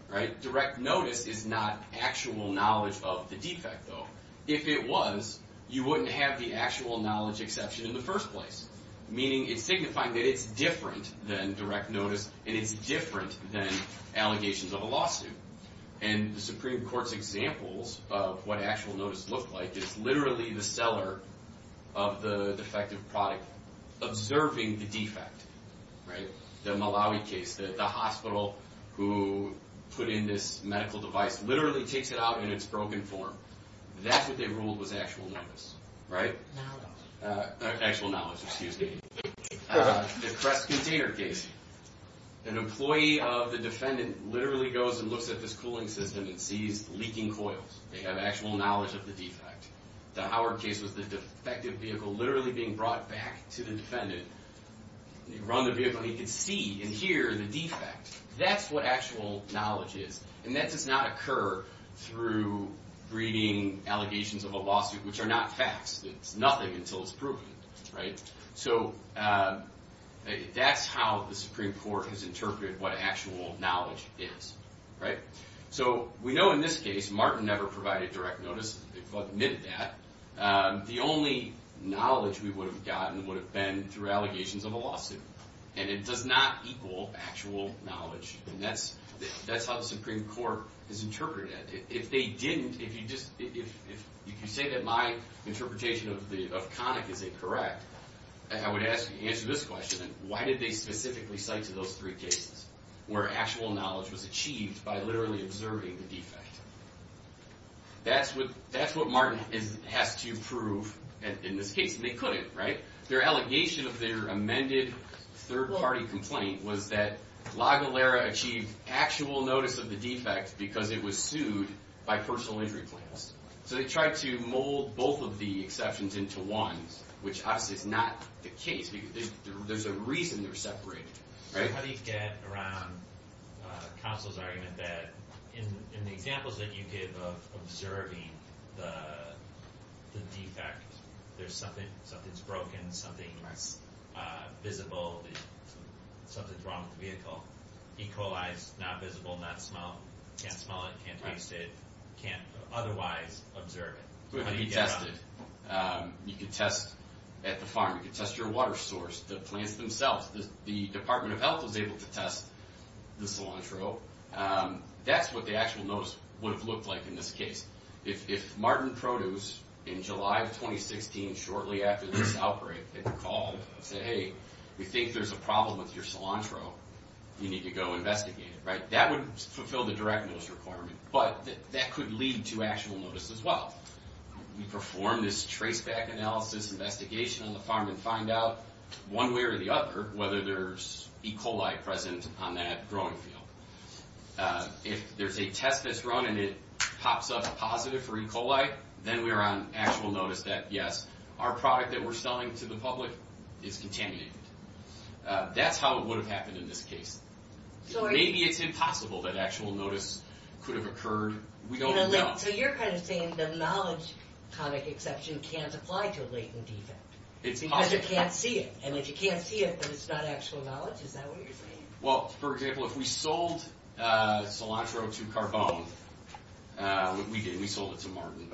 right? Direct notice is not actual knowledge of the defect, though. If it was, you wouldn't have the actual knowledge exception in the first place, meaning it's signifying that it's different than direct notice and it's different than allegations of a lawsuit. And the Supreme Court's examples of what actual notice looked like is literally the seller of the defective product observing the defect, right? The Malawi case, the hospital who put in this medical device literally takes it out in its broken form. That's what they ruled was actual notice, right? Actual knowledge, excuse me. The Kress container case, an employee of the defendant literally goes and looks at this cooling system and sees leaking coils. They have actual knowledge of the defect. The Howard case was the defective vehicle literally being brought back to the defendant. Run the vehicle, and you can see and hear the defect. That's what actual knowledge is. And that does not occur through reading allegations of a lawsuit, which are not facts. It's nothing until it's proven, right? So that's how the Supreme Court has interpreted what actual knowledge is, right? So we know in this case Martin never provided direct notice. But amid that, the only knowledge we would have gotten would have been through allegations of a lawsuit. And it does not equal actual knowledge. And that's how the Supreme Court has interpreted that. If they didn't, if you say that my interpretation of Connick is incorrect, I would ask you to answer this question. Why did they specifically cite to those three cases where actual knowledge was achieved by literally observing the defect? That's what Martin had to prove in this case. And they couldn't, right? Their allegation of their amended third-party complaint was that La Valera achieved actual notice of the defect because it was sued by personal injury plans. So they tried to mold both of the exceptions into one, which I did not take case. There's a reason they're separated, right? So how do you get around Counsel's argument that in the examples that you gave of observing the defect, there's something, something's broken, something's visible, something's wrong with the vehicle, equalized, not visible, not smellable, can't smell it, can't taste it, can't otherwise observe it. How do you get around that? You can test at the farm. You can test your water source, the plants themselves. The Department of Health was able to test the cilantro. That's what the actual notice would have looked like in this case. If Martin Produce, in July of 2016, shortly after the outbreak, had called and said, hey, we think there's a problem with your cilantro. We need to go investigate it. That would fulfill the direct notice requirement. But that could lead to actual notice as well. We perform this traceback analysis investigation on the farm and find out, one way or the other, whether there's E. coli present on that growing field. If there's a test that's run and it pops up positive for E. coli, then we're on actual notice that, yes, our product that we're selling to the public is contaminated. That's how it would have happened in this case. Maybe it's impossible that actual notice could have occurred. So you're kind of saying the knowledge exception can't apply to latent data because you can't see it. And if you can't see it, then it's not actual knowledge? Is that what you're saying? Well, for example, if we sold cilantro to Carbone, we did. We sold it to Martin.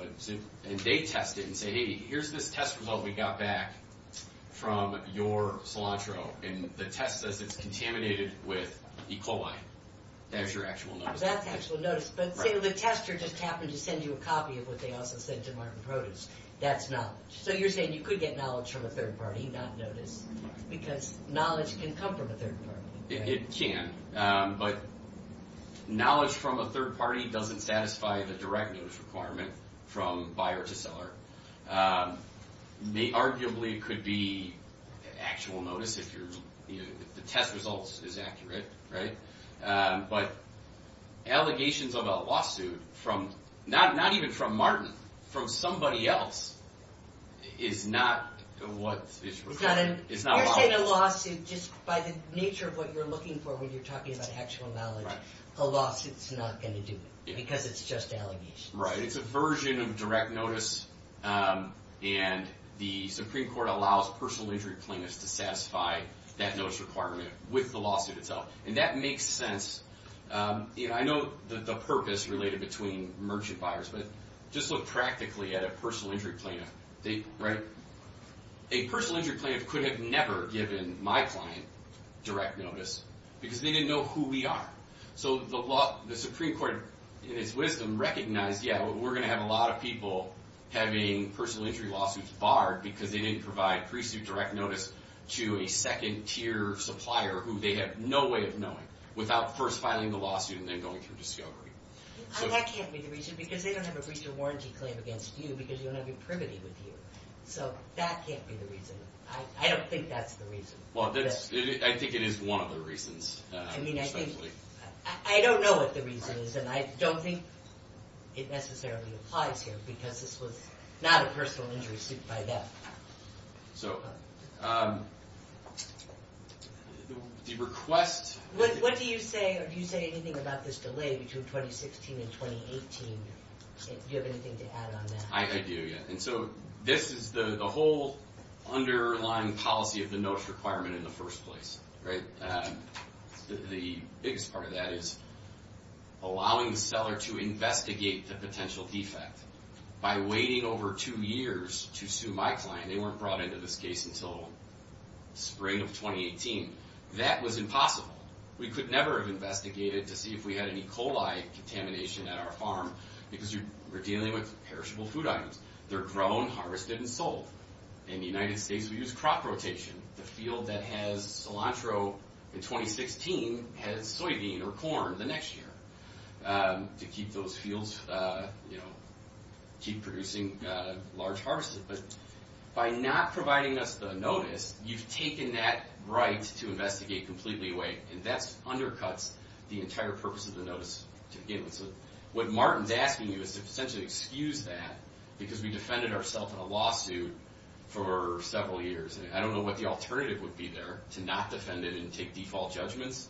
And they tested and said, hey, here's this test result we got back from your cilantro. And the test says it's contaminated with E. coli. That's your actual notice. But the tester just happened to send you a copy of what they also sent to Martin Produce. That's knowledge. So you're saying you could get knowledge from a third party, not notice, because knowledge can come from a third party. It can. But knowledge from a third party doesn't satisfy the direct notice requirement from buyer to seller. Arguably, it could be actual notice if the test result is accurate. But allegations of a lawsuit, not even from Martin, from somebody else, is not a lawsuit. You're saying a lawsuit, just by the nature of what you're looking for when you're talking about actual knowledge, a lawsuit is not going to do it because it's just allegations. Right. It's a version of direct notice. And the Supreme Court allows personal injury claimants to satisfy that notice requirement with the lawsuit itself. And that makes sense. You know, I know the purpose related between merchant buyers. But just look practically at a personal injury claimant. Right. A personal injury claimant could have never given my client direct notice because they didn't know who we are. So the Supreme Court, in its wisdom, recognized, yeah, we're going to have a lot of people having personal injury lawsuits barred because they didn't provide pre-suit direct notice to a second-tier supplier who they had no way of knowing without first filing the lawsuit and then going for discovery. That can't be the reason because they don't have a recent warranty claim against you because you don't have your privity with you. So that can't be the reason. I don't think that's the reason. Well, I think it is one of the reasons. I mean, I think – I don't know what the reason is and I don't think it necessarily applies here because this was not a personal injury suit by them. So the request – What do you say – do you say anything about this delay between 2016 and 2018? Do you have anything to add on that? I do, yes. And so this is the whole underlying policy of the notice requirement in the first place. The biggest part of that is allowing the seller to investigate the potential defect by waiting over two years to sue my client. They weren't brought into this case until spring of 2018. That was impossible. We could never have investigated to see if we had any coli contamination at our farm because we're dealing with perishable food items. They're grown, harvested, and sold. In the United States, we use crop rotation. The field that has cilantro in 2016 has soybean or corn the next year to keep those fields – keep producing large harvests. But by not providing us the notice, you've taken that right to investigate completely away. And that undercuts the entire purpose of the notice to begin with. What Martin's asking you is to essentially excuse that because we defended ourselves in a lawsuit for several years, and I don't know what the alternative would be there to not defend it and take default judgments.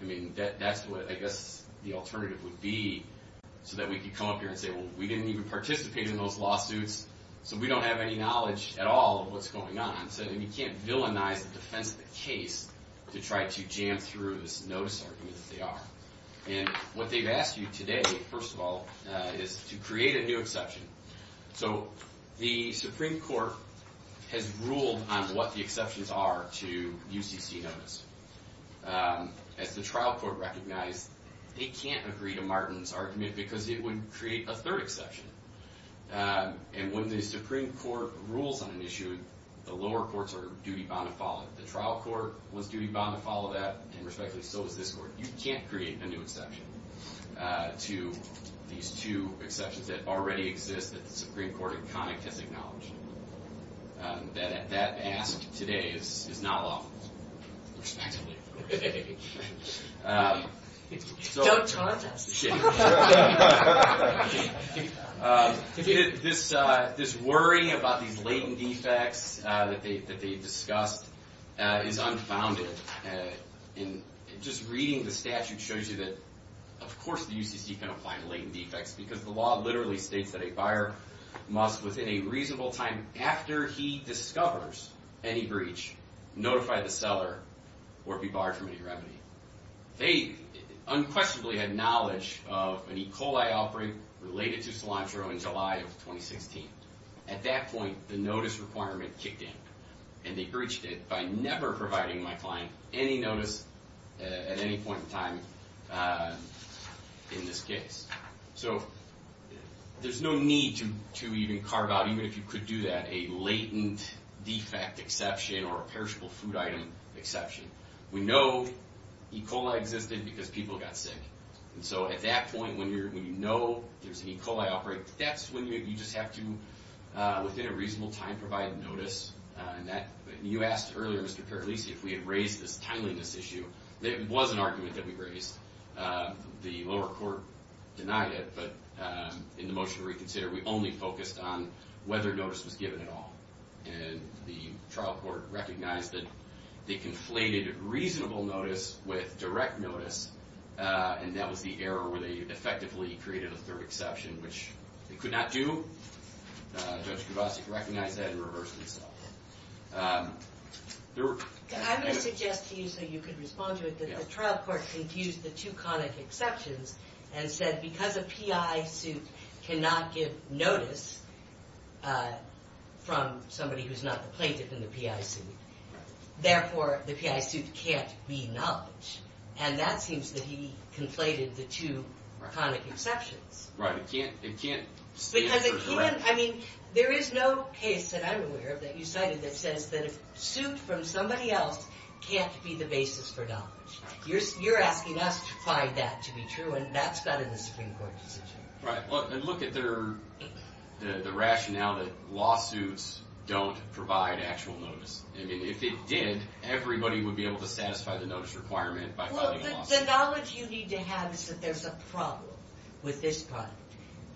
I mean, that's what I guess the alternative would be so that we could come up here and say, well, we didn't even participate in those lawsuits, so we don't have any knowledge at all of what's going on. Instead, you can't villainize the defense of the case to try to jam through this notice argument as they are. And what they've asked you today, first of all, is to create a new exception. So the Supreme Court has ruled on what the exceptions are to UCC notice. As the trial court recognized, they can't agree to Martin's argument because it would create a third exception. And when the Supreme Court rules on an issue, the lower courts are duty-bound to follow it. The trial court was duty-bound to follow that, and respectively, so is this court. You can't create a new exception to these two exceptions that already exist that the Supreme Court in Connick has acknowledged. That asked today is not lawful. So this worry about the latent defect that they discussed is unfounded. Just reading the statute shows you that, of course, the UCC can apply latent defects because the law literally states that a buyer must, within a reasonable time after he discovers any breach, notify the seller or be barred from any revenue. They unquestionably had knowledge of an E. coli offering related to cilantro in July of 2016. At that point, the notice requirement kicked in, and they breached it by never providing my client any notice at any point in time in this case. So there's no need to even carve out, even if you could do that, a latent defect exception or a perishable food item exception. We know E. coli existed because people got sick. And so at that point, when you know there's an E. coli offering, that's when you just have to, within a reasonable time, provide a notice. And you asked earlier, Mr. Fairleese, if we had raised this timeliness issue. There was an argument that we raised. The lower court denied it. But in the motion to reconsider, we only focused on whether notice was given at all. And the trial court recognized that they conflated reasonable notice with direct notice, and that was the error where they effectively created a third exception, which they could not do. Judge Kubasik recognized that and reversed himself. I'm going to suggest to you so you can respond to it, that the trial court confused the two conic exceptions and said, because a P.I. suit cannot give notice from somebody who's not the plaintiff in the P.I. suit, therefore the P.I. suit can't be acknowledged. And that seems that he conflated the two conic exceptions. Right, it can't? Because it can't. I mean, there is no case that I'm aware of that you cited that says that a suit from somebody else can't be the basis for notice. You're asking us to find that to be true, and that's not in the Supreme Court's decision. Right, but look at the rationale that lawsuits don't provide actual notice. I mean, if it did, everybody would be able to satisfy the notice requirement by filing a lawsuit. Well, the knowledge you need to have is that there's a problem with this product.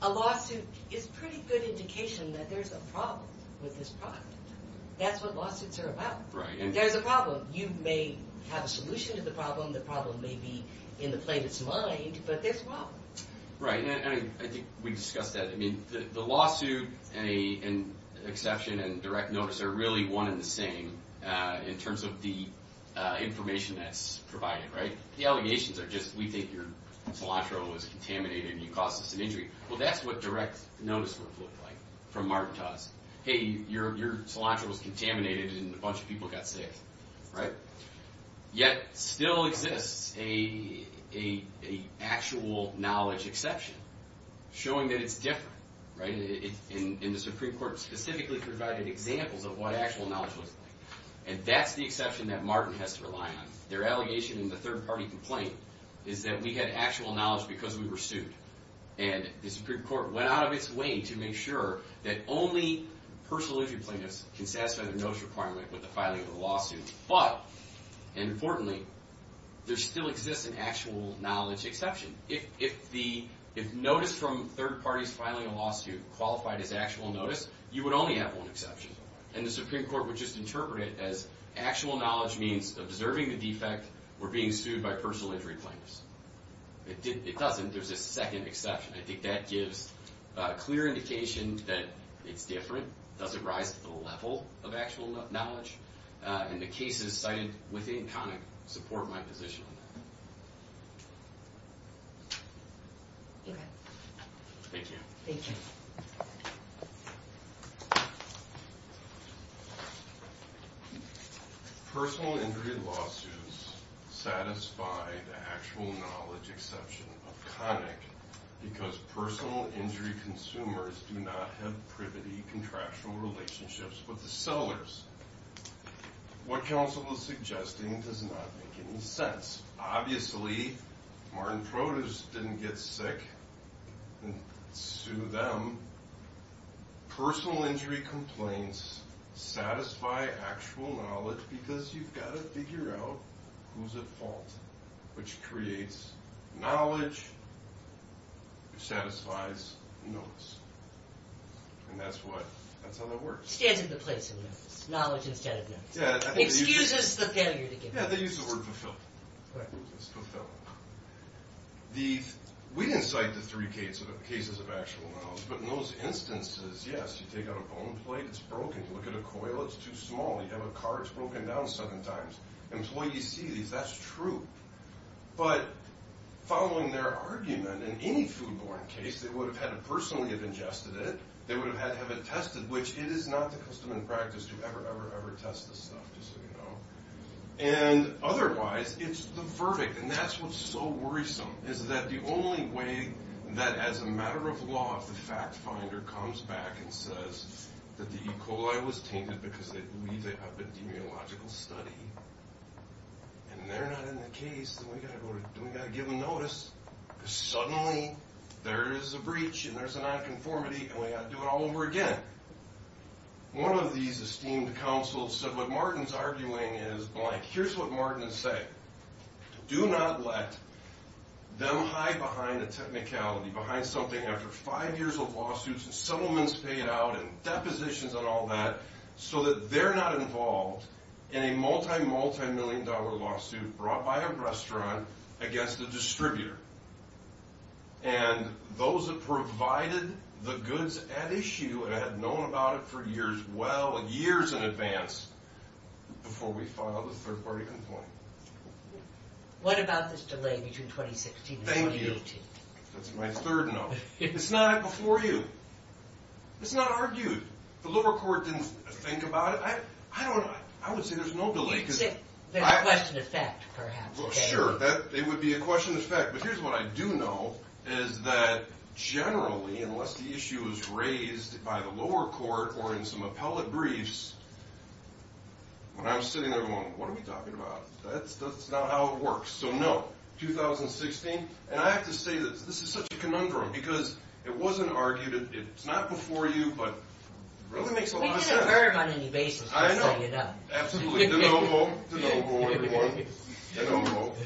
A lawsuit is a pretty good indication that there's a problem with this product. That's what lawsuits are about. There's a problem. You may have a solution to the problem. The problem may be in the plaintiff's mind, but there's a problem. Right, and I think we've discussed that. I mean, the lawsuit and exception and direct notice are really one and the same in terms of the information that's provided, right? The allegations are just, we think your cilantro was contaminated and you caused us an injury. Well, that's what direct notice looks like from Martin Jobs. Hey, your cilantro was contaminated and a bunch of people got sick, right? Yet, still exists an actual knowledge exception showing that it's different, right? And the Supreme Court specifically provided examples of what actual knowledge looks like, and that's the exception that Martin has to rely on. Their allegation in the third-party complaint is that we had actual knowledge because we were sued, and the Supreme Court went out of its way to make sure that only personally complainants can satisfy the notice requirement with a filing of a lawsuit. But, importantly, there still exists an actual knowledge exception. If notice from third parties filing a lawsuit qualified as actual notice, you would only have one exception, and the Supreme Court would just interpret it as actual knowledge means observing the defect or being sued by personally complainants. It doesn't exist a second exception. I think that gives a clear indication that it's different. It doesn't rise to the level of actual knowledge. In the case that it's cited, with any comment, support my position. Thank you. Personal injury lawsuits satisfy the actual knowledge exception of CONIC because personal injury consumers do not have privity contractual relationships with the sellers. What counsel is suggesting does not make any sense. Obviously, Martin Protus didn't get sick and sue them. Personal injury complaints satisfy actual knowledge because you've got to figure out who's at fault, which creates knowledge, satisfies notice. And that's how that works. Stand in the place of knowledge instead of notice. Excuses for failure to give notice. Yeah, they use the word fulfill. They use the word fulfill. We didn't cite the three cases of actual knowledge, but in those instances, yes, you take out a bone plate, it's broken. You look at a coil, it's too small. You have a car, it's broken down seven times. Employees tease you. That's true. But following their argument, in any food-borne case, they would have had to personally have ingested it. They would have had to have it tested, which it is not the custom and practice to ever, ever, ever test this stuff, just so you know. And otherwise, it's the verdict. And that's what's so worrisome, is that the only way that, as a matter of law, the fact finder comes back and says that the E. coli was tainted because they believe in epidemiological study. And they're not in the case, and we've got to give them notice. Suddenly, there is a breach, and there's a nonconformity, and we've got to do it all over again. One of these esteemed counsels said, what Martin's arguing is, like, here's what Martin would say. Do not let them hide behind a technicality, behind something after five years of lawsuits and settlements paid out and depositions and all that, so that they're not involved in a multimillion-dollar lawsuit brought by a restaurant against a distributor. And those that provided the goods at issue and had known about it for years, well, years in advance, before we filed the third-party complaint. What about this delay between 2016 and 2018? Thank you. That's my third no. It's not before you. It's not argued. The lower court didn't think about it. I don't know. I would say there's no delay. There's a question of fact, perhaps. Sure. It would be a question of fact. But here's what I do know, is that generally, unless the issue is raised by the lower court or in some appellate briefs, when I'm sitting there going, what are we talking about? That's not how it works. So, no, 2016. And I have to say that this is such a conundrum because it wasn't argued. It's not before you, but it really makes a lot of sense. We concur on these bases. I know. Absolutely. There's an old rule. There's an old rule, everyone. There's an old rule.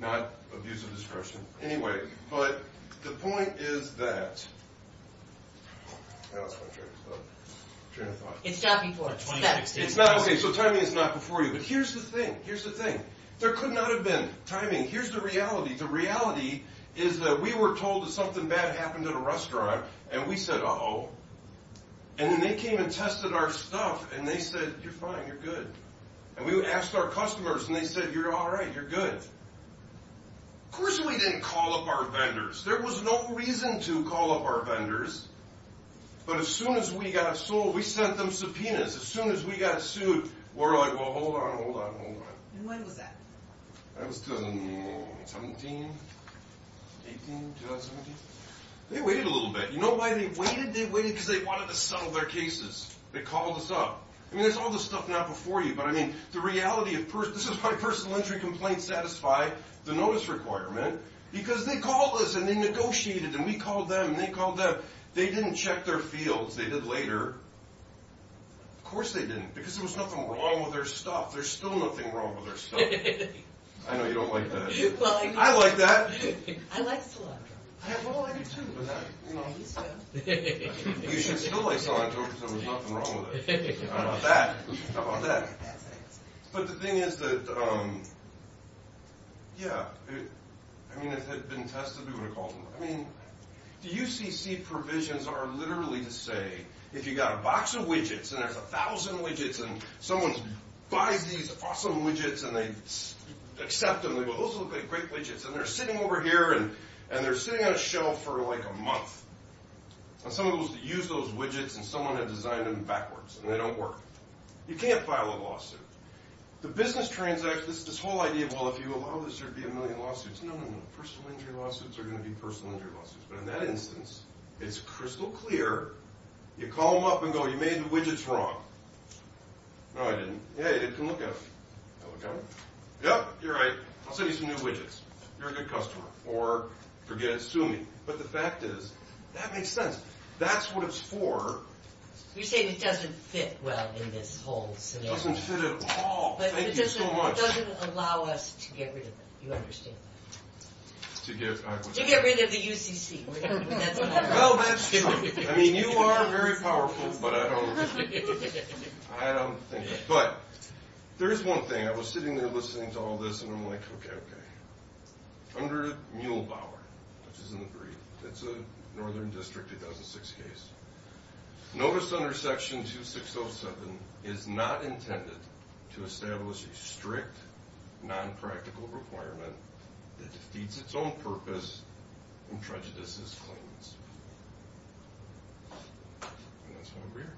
Not abuse of discretion. Anyway, but the point is that... It's not before us. It's not. Okay, so timing is not before you. But here's the thing. Here's the thing. There could not have been timing. Here's the reality. The reality is that we were told that something bad happened at a restaurant, and we said, uh-oh. And when they came and tested our stuff, and they said, you're fine. You're good. And we asked our customers, and they said, you're all right. You're good. Of course we didn't call up our vendors. There was no reason to call up our vendors. But as soon as we got sued, we sent them subpoenas. As soon as we got sued, we're like, well, hold on, hold on, hold on. And when was that? That was, um, 17, 18, 20. They waited a little bit. You know why they waited? They waited because they wanted to settle their cases. They called us up. I mean, there's all this stuff now before you. But, I mean, the reality at first, this is why personal injury complaints satisfy the notice requirement. Because they called us, and they negotiated, and we called them, and they called them. They didn't check their fields. They did later. Of course they didn't, because there was nothing wrong with their stuff. There's still nothing wrong with their stuff. I know you don't like that. I like that. I like cilantro. I have cilantro, too. You should still like cilantro, because there was nothing wrong with it. How about that? How about that? But the thing is that, um, yeah, I mean, it's been tested. We're going to call them. I mean, the UCC provisions are literally to say, if you've got a box of widgets, and there's a thousand widgets, and someone's buying these awesome widgets, and they accept them, and they go, those look like great widgets, and they're sitting over here, and they're sitting on a shelf for, like, a month. And someone's used those widgets, and someone has designed them backwards, and they don't work. You can't file a lawsuit. The business transactions, this whole idea of, well, if you allow this, there'd be a million lawsuits. No, no, no. Personal injury lawsuits are going to be personal injury lawsuits. But in that instance, it's crystal clear. You call them up and go, you made the widgets wrong. No, I didn't. Hey, they can look at them. Okay. Yep, you're right. I'll send you some new widgets. You're a good customer. Or forget it. Sue me. But the fact is, that makes sense. That's what it's for. You're saying it doesn't fit well in this whole scenario. It doesn't fit at all. Thank you so much. But it doesn't allow us to get rid of it. Do you understand that? To get, I was... To get rid of the UCC. Oh, that's stupid. I mean, you are very powerful, but I don't think... I don't think... But there is one thing. I was sitting there listening to all this and I'm like, okay. Under Muellbauer, which is in the brief, it's a Northern District 2006 case. Notice under Section 2607 is not intended to establish a strict, non-practical requirement. It defeats its own purpose and prejudices claims. That's my beer.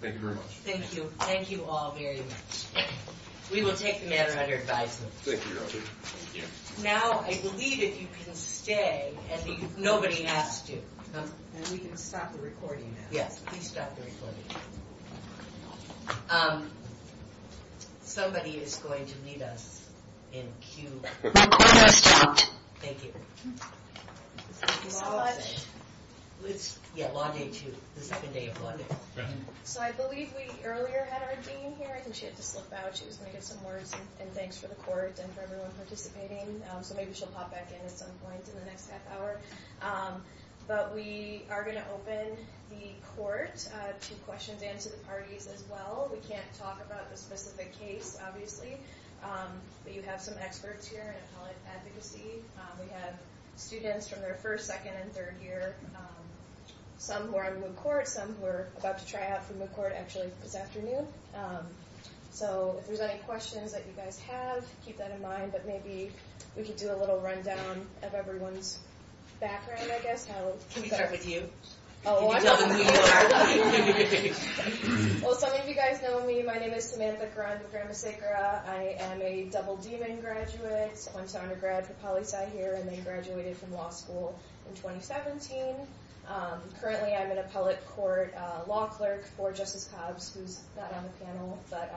Thank you very much. Thank you. Thank you all very much. We will take the matter under advisement. Thank you. Thank you. Now, I believe that you can stay. Nobody asked you. We can stop the recording now. Yeah, please stop the recording. Somebody is going to need us in a few... Thank you. Do you all have it? Yeah, on day two. The second day of Monday. So, I believe we earlier had our dean here. I think she had to slip out. She was going to get some words and thanks for the course and for everyone participating. So, maybe she'll pop back in at some point in the next half hour. But we are going to open the court to questions and to the parties as well. We can't talk about the specific case, obviously. But you have some experts here in college advocacy. We have students from their first, second, and third year. Some who are in the court. Some who are about to try out for the court actually this afternoon. So, if there are any questions that you guys have, keep that in mind. But maybe we can do a little rundown of everyone's background, I guess. We can start with you. Well, some of you guys know me. My name is Samantha Carranza-Gramasekera. I am a double dean and graduate. I went to undergrad to Poli Sci here and then graduated from law school in 2017. Currently, I'm in a public court law clerk for Justice Cobbs who's not on the panel. But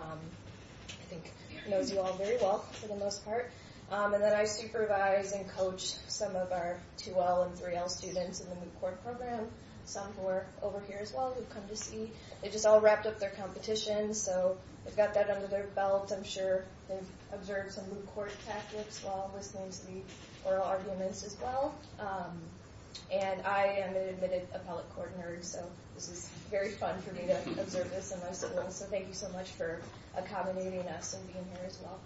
I think she knows you all very well for the most part. And then I supervise and coach some of our 2L and 3L students in the moot court program. Some who are over here as well who have come to see. They just all wrapped up their competition. So, they've got that under their belt. I'm sure they've observed some moot court tactics as well. They're going to be oral arguments as well. And I am an admitted appellate court nerd. So, it's very fun for me to observe this. So, thank you so much for accommodating us and being here as well.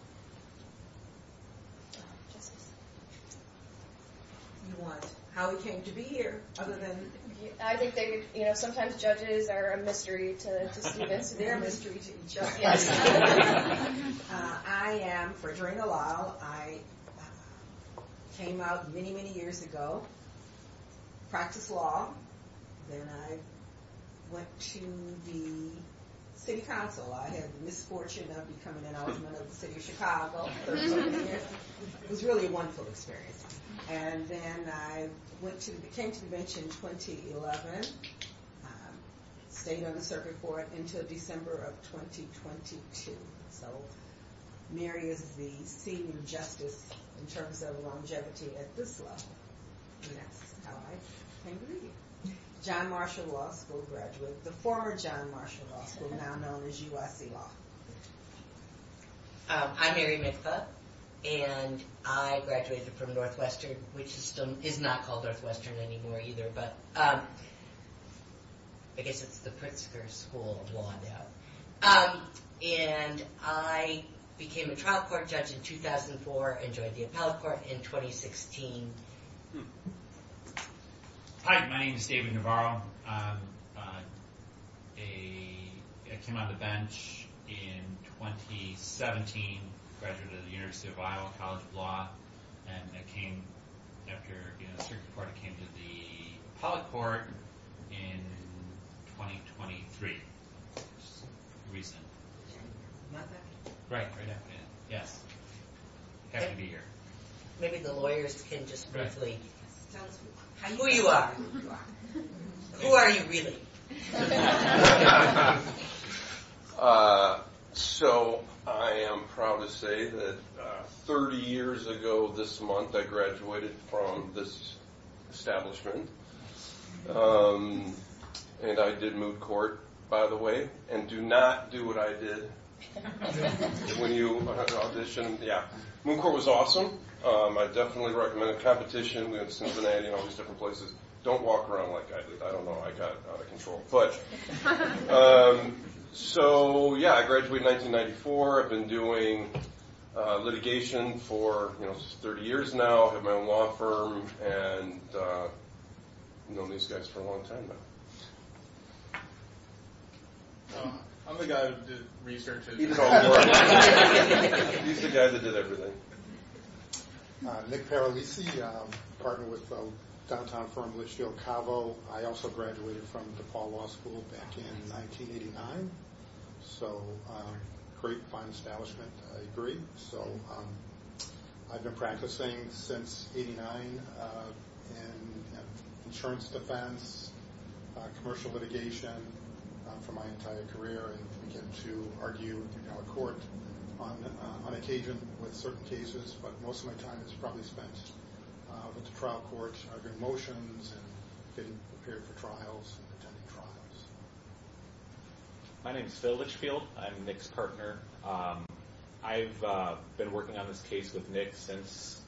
How we came to be here other than... I just think sometimes judges are a mystery to students. They're a mystery to judges. I am for joining a law. I came out many, many years ago. Practiced law. Then I went to the city council. I had the misfortune of coming out of the city of Chicago. It was really a wonderful experience. And then I came to the convention in 2011. Stayed on the circuit court until December of 2022. So, Mary is the theme of justice in terms of longevity at this level. John Marshall Ross will graduate. The former John Marshall Ross is now known as U.S.B. Ross. I'm Mary McClough. And I graduated from Northwestern, which is not called Northwestern anymore either. But, I get to the Pritzker School of Law and Debt. And I became a trial court judge in 2004 and joined the appellate court in 2016. Hi, my name is David Navarro. I came on the bench in 2017. Graduated from the University of Iowa College of Law. And I came to the appellate court in 2023. Maybe the lawyers can just briefly tell us who you are. Who are you really? So, I am proud to say that 30 years ago this month, I graduated from this establishment. And I did moot court, by the way. And do not do what I did. Moot court was awesome. I definitely recommend the competition. We had Cincinnati and all these different places. Don't walk around like I did. I don't know, I got out of control. So, yeah, I graduated in 1994. I've been doing litigation for 30 years now. I have my own law firm. And I've known these guys for a long time. I'm the guy who did research. He did all the work. He's the guy that did everything. Hi, I'm Nick Paralisi. I'm a partner with the downtown firm of the Shield Cabo. I also graduated from DePaul Law School back in 1989. So, great fine establishment. I agree. So, I've been practicing since 89 in insurance defense, commercial litigation for my entire career. And I've been here to argue in court on occasion with certain cases. But most of my time is probably spent with the trial courts. Arguing motions and sitting up here at the trials and attending trials. My name is Phil Litchfield. I'm Nick's partner. I've been working on this case with Nick since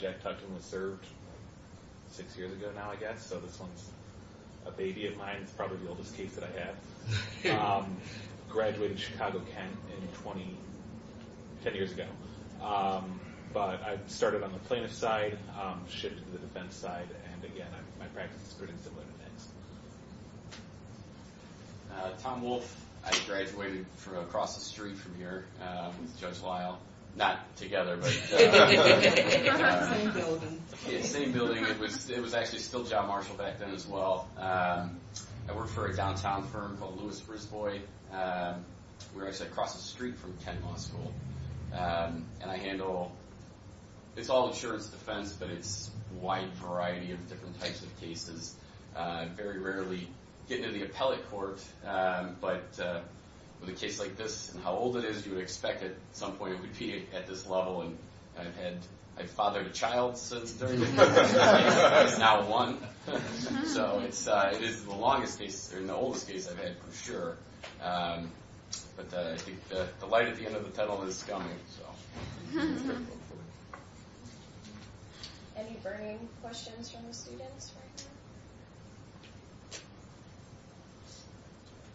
Jack Tuckson was served six years ago now, I guess. So, this one's a baby of mine. It's probably the oldest case that I have. Graduated in Chicago, Kent, 10 years ago. But I started on the plaintiff's side. Shifted to the defense side. And, again, my practice is pretty similar. Tom Wolfe. I graduated from across the street from here. Judge Weill. Not together, but... Same building. Yeah, same building. It was actually Phil John Marshall back then as well. I work for a downtown firm called Lewis Bruce Boyd. Where I said across the street from Kent Law School. And I handle... It's all insurance defense, but it's a wide variety of different types of cases. Very rarely get to the appellate court. But with a case like this, and how old it is, you would expect at some point it would be at this level. And I've had... I fathered a child since then. Not one. So, it is the longest case. It's the oldest case I've had, for sure. But the light at the end of the tunnel is dumbing itself. Any burning questions from the audience?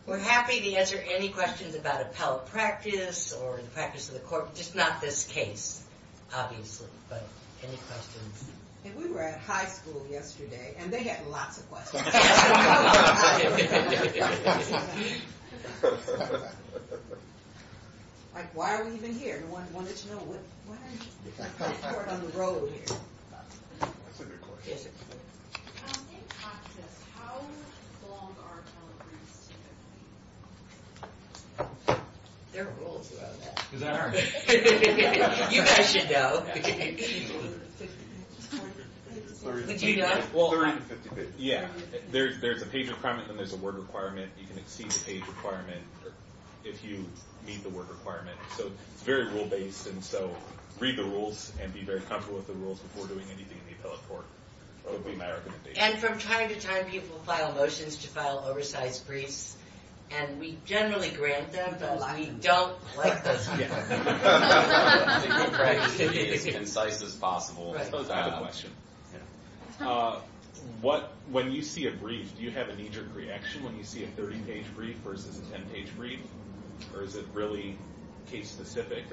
We're happy to answer any questions about appellate practice or the practice of the court. Just not this case, obviously. But, any questions? We were at high school yesterday, and they had lots of questions. Like, why are we even here? No one wants to know. Why are we here? We're on the road here. You guys should know. Yeah. There's a paper front, and there's a word requirement. You can exceed the page requirement if you meet the word requirement. So, it's very rule-based. And so, read the rules, and be very comfortable with the rules before doing anything in the appellate court. That would be my recommendation. And from time to time, people file motions to file oversized briefs. And we generally grant them, but we don't like those briefs. We try to get as many insights as possible. Those are the questions. When you see a brief, do you have a knee-jerk reaction when you see a 30-page brief versus a 10-page brief? Or is it really case-specific?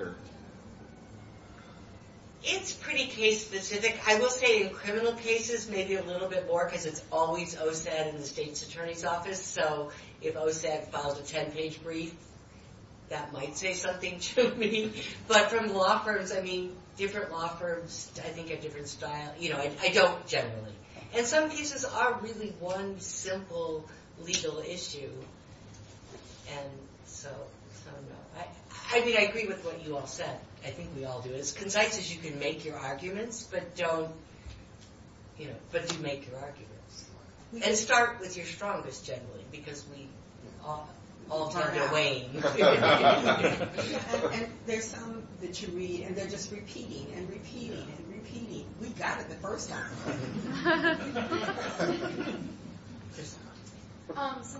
It's pretty case-specific. I will say, in criminal cases, maybe a little bit more, because it's always OSED and the state's attorney's office. So, if OSED files a 10-page brief, that might say something to me. But from law firms, I mean, different law firms, I think a different style. You know, I don't generally. And some cases are really one simple legal issue. I think I agree with what you all said. I think we all do. As concise as you can make your arguments, but don't, you know, but do make your arguments. And start with your strongest, generally, because we all tend to wane. And there are some that you read, and they're just repeating and repeating and repeating. We've got it the first time.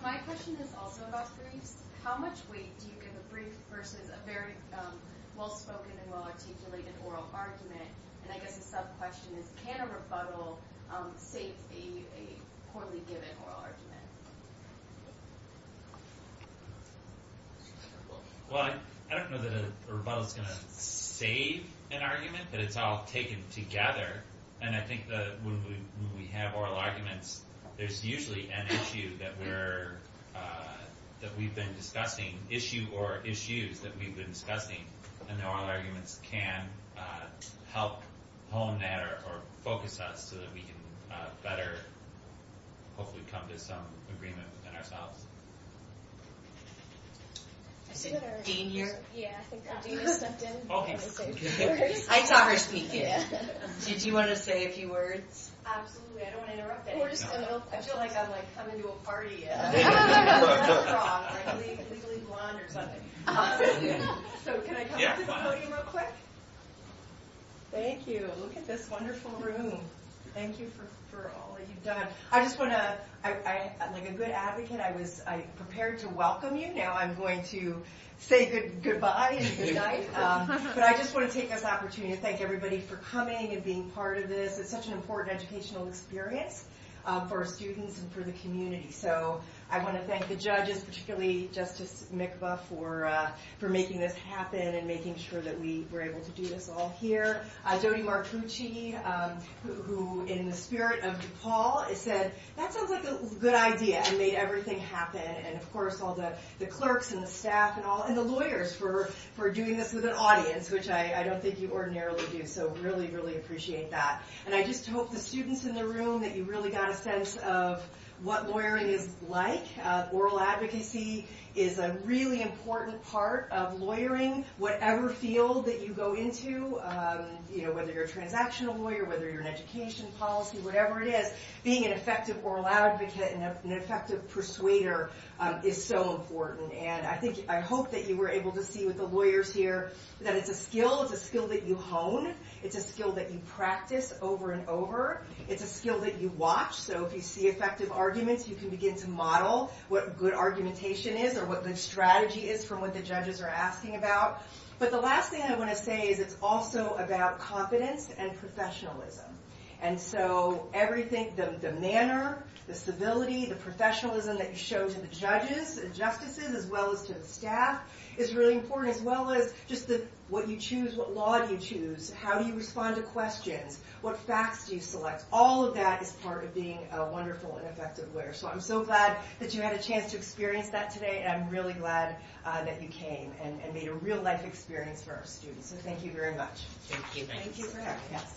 My question is also about briefs. How much weight do you give a brief versus a very well-spoken and well-articulated oral argument? And I guess a sub-question is, can a rebuttal face a poorly-given oral argument? Well, I don't know that a rebuttal is going to save an argument, but it's all taken together. And I think that when we have oral arguments, there's usually an issue that we're, that we've been discussing. Issue or issues that we've been discussing. And oral arguments can help hone that or focus us so that we can better hopefully come to some agreement within ourselves. Is Dean here? Yeah. I saw her speak. Yeah. Did you want to say a few words? Absolutely. I don't want to interrupt anyone. I feel like I'm coming to a party. So can I come to the podium real quick? Thank you. Look at this wonderful room. Thank you for all that you've done. I just want to, I'm a good advocate. I was prepared to welcome you. Now I'm going to say goodbye and goodnight. But I just want to take this opportunity to thank everybody for coming and being part of this. It's such an important educational experience for our students and for the community. So I want to thank the judges, particularly Justice Mikva, for making this happen and making sure that we were able to do this all here. Dodie Marcucci, who in the spirit of DePaul, said that sounds like a good idea and made everything happen. And of course all the clerks and the staff and all, and the lawyers for doing this with an audience, which I don't think you ordinarily do. So really, really appreciate that. And I just hope the students in the room that you really got a sense of what lawyering is like. Oral advocacy is a really important part of lawyering. Whatever field that you go into, whether you're a transactional lawyer, whether you're an education policy, whatever it is, being an effective oral advocate and an effective persuader is so important. And I hope that you were able to see with the lawyers here that it's a skill. It's a skill that you hone. It's a skill that you practice over and over. It's a skill that you watch. So if you see effective arguments, you can begin to model what good argumentation is or what the strategy is for what the judges are asking about. But the last thing I want to say is it's also about confidence and professionalism. And so everything, the manner, the civility, the professionalism that you show to the judges, the justices, as well as to the staff, is really important. As well as just what you choose, what law you choose, how you respond to questions, what facts you select. All of that is part of being a wonderful and effective lawyer. So I'm so glad that you had a chance to experience that today. And I'm really glad that you came and made a real life experience for our students. So thank you very much. Thank you. Thank you for having us.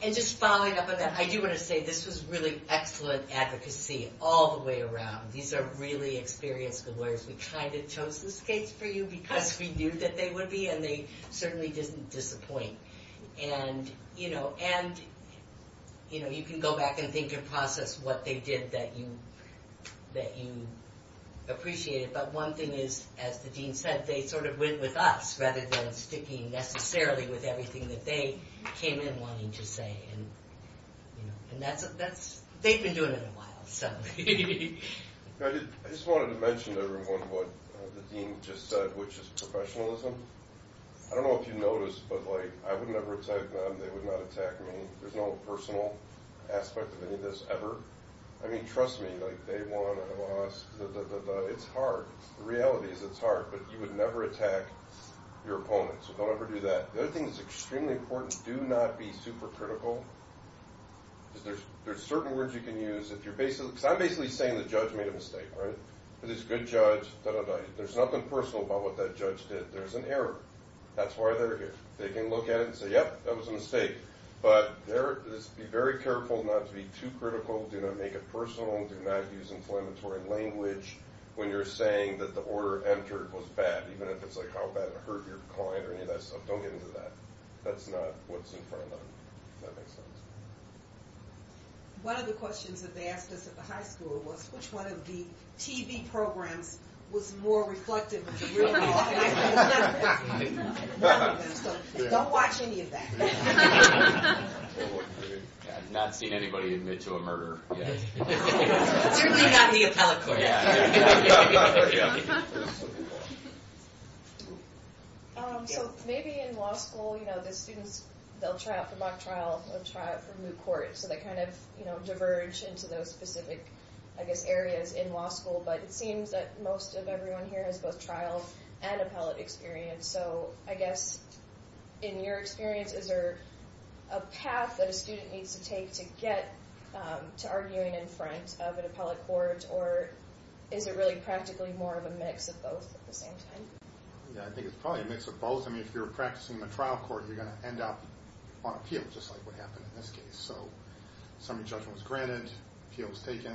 And just following up on that, I do want to say this is really excellent advocacy all the way around. These are really experienced lawyers. We kind of chose this case for you because we knew that they would be. And they certainly didn't disappoint. And, you know, you can go back and think and process what they did that you appreciated. But one thing is, as the dean said, they sort of went with us rather than sticking necessarily with everything that they came in wanting to say. And they've been doing it a while. I just wanted to mention to everyone what the dean just said, which is professionalism. I don't know if you noticed, but, like, I would never attack them. They would not attack me. There's no personal aspect of any of this ever. I mean, trust me, like, they won, I lost, da-da-da-da. It's hard. The reality is it's hard. But you would never attack your opponents. Don't ever do that. The other thing that's extremely important, do not be super critical. There's certain words you can use. I'm basically saying the judge made a mistake, right? There's this good judge. There's nothing personal about what that judge did. There's an error. That's why they're here. They can look at it and say, yep, that was a mistake. But be very careful not to be too critical. Do not make it personal. Do not use inflammatory language when you're saying that the order entered was bad, even if it's, like, how bad it hurt your client or any of that stuff. Don't get into that. That's not what's in front of them. One of the questions that they asked us at the high school was which one of the TV programs was more reflective of the real law. So, don't watch any of that. I've not seen anybody admit to a murder. You're not the appellate court. Yeah. So, maybe in law school, you know, the students, they'll try out the mock trial and they'll try out the moot court. So, they kind of, you know, diverge into those specific, I guess, areas in law school. But it seems that most of everyone here has both trial and appellate experience. So, I guess, in your experience, is there a path that a student needs to take to get to arguing in front of an appellate court? Or is it really practically more of a mix of both at the same time? I think it's probably a mix of both. I mean, if you're practicing in a trial court, you're going to end up on appeal, just like what happened in this case. So, summary judgment was granted. Appeal was taken.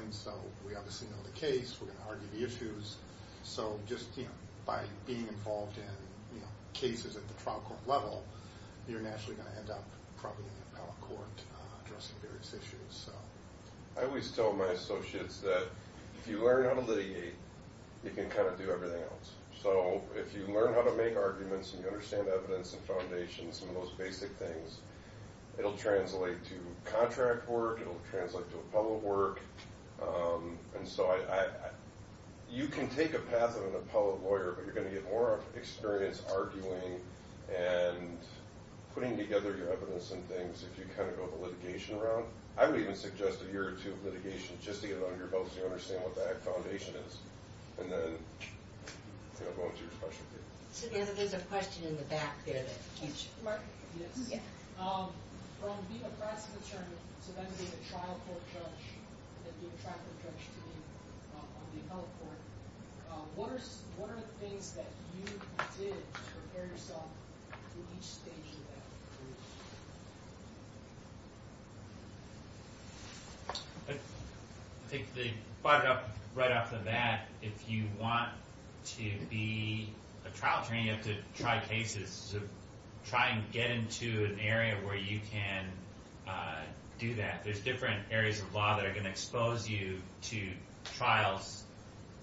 We can argue the issues. So, just by being involved in cases at the trial court level, you're naturally going to end up probably in the appellate court addressing various issues. I always tell my associates that if you learn how to lead, you can kind of do everything else. So, if you learn how to make arguments and you understand evidence and foundations and those basic things, it'll translate to contract work. It'll translate to appellate work. And so, you can take a path of an appellate lawyer, but you're going to get more experience arguing and putting together your evidence and things if you kind of go the litigation route. I would even suggest a year or two of litigation, just to get it under your belt, so you understand what that foundation is. And then, you know, go into your professional career. There's a question in the back there. Mark? Yes. From being a professional attorney to then being a trial court judge and then being a trial court judge on the appellate court, what are the things that you did to prepare yourself for each stage of that? I think right off the bat, if you want to be a trial attorney, you have to try and get into an area where you can do that. There's different areas of law that are going to expose you to trials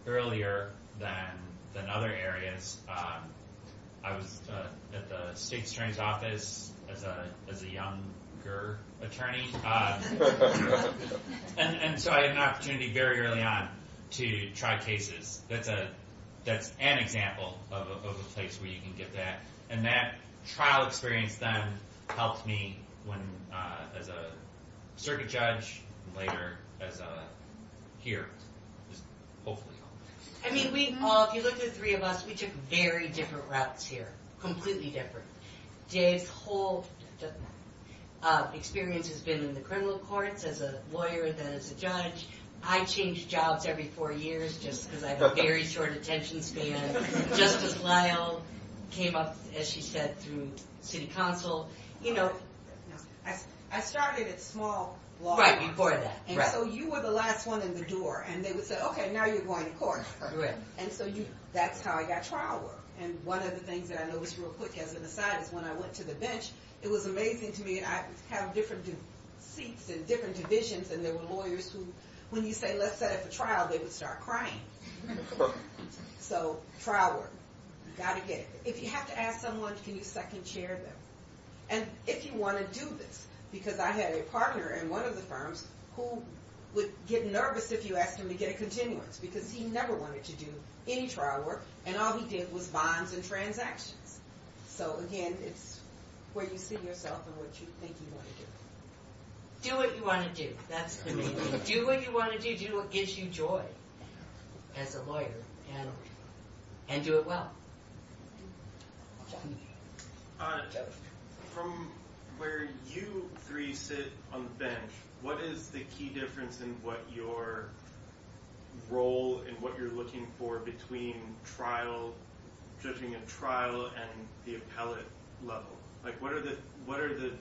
earlier than other areas. I was at the state attorney's office as a younger attorney. And so, I had an opportunity very early on to try cases. That's an example of a place where you can get that. And that trial experience then helped me as a circuit judge and later as a peer, hopefully. I mean, if you look at the three of us, we took very different routes here. Completely different. Dave's whole experience has been in the criminal courts as a lawyer, then as a judge. I changed jobs every four years just because I have a very short attention span. Justice Lyle came up, as she said, through city council. You know, I started at small law school. Right, before that. And so, you were the last one in the door. And they would say, okay, now you're going to court. And so, that's how I got trial work. And one of the things that I noticed real quick, as an aside, is when I went to the bench, it was amazing to me. I have different seats in different divisions. And there were lawyers who, when you say, let's set up a trial, they would start crying. So, trial work. Got to get it. If you have to ask someone, can you second chair them? And if you want to do this, because I had a partner in one of the firms who would get nervous if you asked him to get a continuance, because he never wanted to do any trial work, and all he did was bonds and transactions. So, again, it's where you see yourself and what you think you want to do. Do what you want to do. That's the key. Do what you want to do. Do what gives you joy as a lawyer. And do it well. From where you three sit on the bench, what is the key difference in what your role and what you're looking for between trial, judging a trial and the appellate level? What are the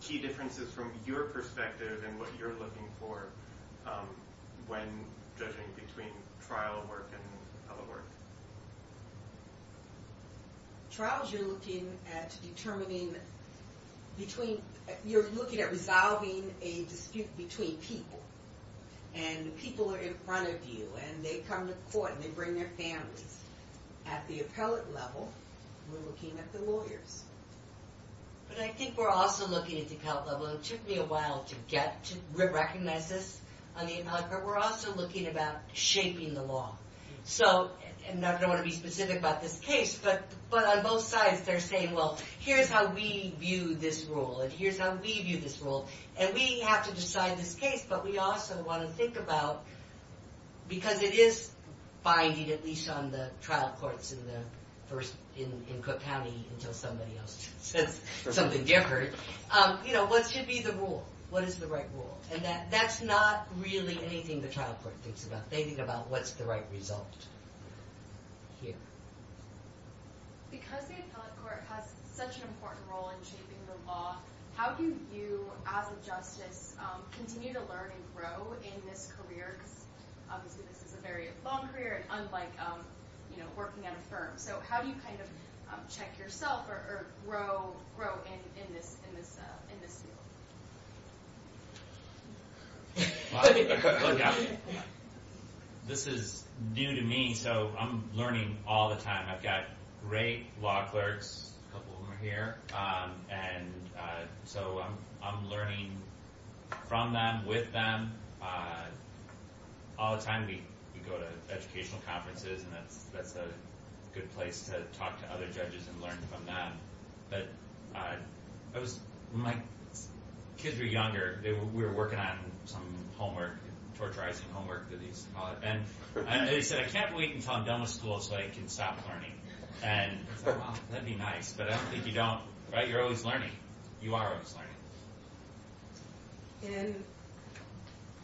key differences from your perspective and what you're looking for when judging between trial work and appellate work? In trials, you're looking at resolving a dispute between people. And people are in front of you, and they come to court, and they bring their families. At the appellate level, we're looking at the lawyer. But I think we're also looking at the appellate level, and it took me a while to get to recommend this, but we're also looking about shaping the law. So, and I don't want to be specific about this case, but on both sides, they're saying, well, here's how we view this rule, and here's how we view this rule. And we have to decide this case, but we also want to think about, because it is binding, at least on the trial courts in Cook County until somebody else says something different, you know, what should be the rule? What is the right rule? And that's not really anything the trial court thinks about. They think about what's the right result. Here. Because the appellate court has such an important role in shaping the law, how do you, as a justice, continue to learn and grow in this career, because it's a very long career, unlike, you know, working at a firm? So how do you kind of check yourself or grow in this field? This is new to me, so I'm learning all the time. I've got great law clerks, a couple who are here, and so I'm learning from them, with them. All the time we go to educational conferences, and that's a good place to talk to other judges and learn from them. When my kids were younger, we were working on some homework, torturizing homework, and I said, I can't wait until I'm done with school so I can stop learning. And that'd be nice, but I don't think you don't. You're always learning. You are always learning.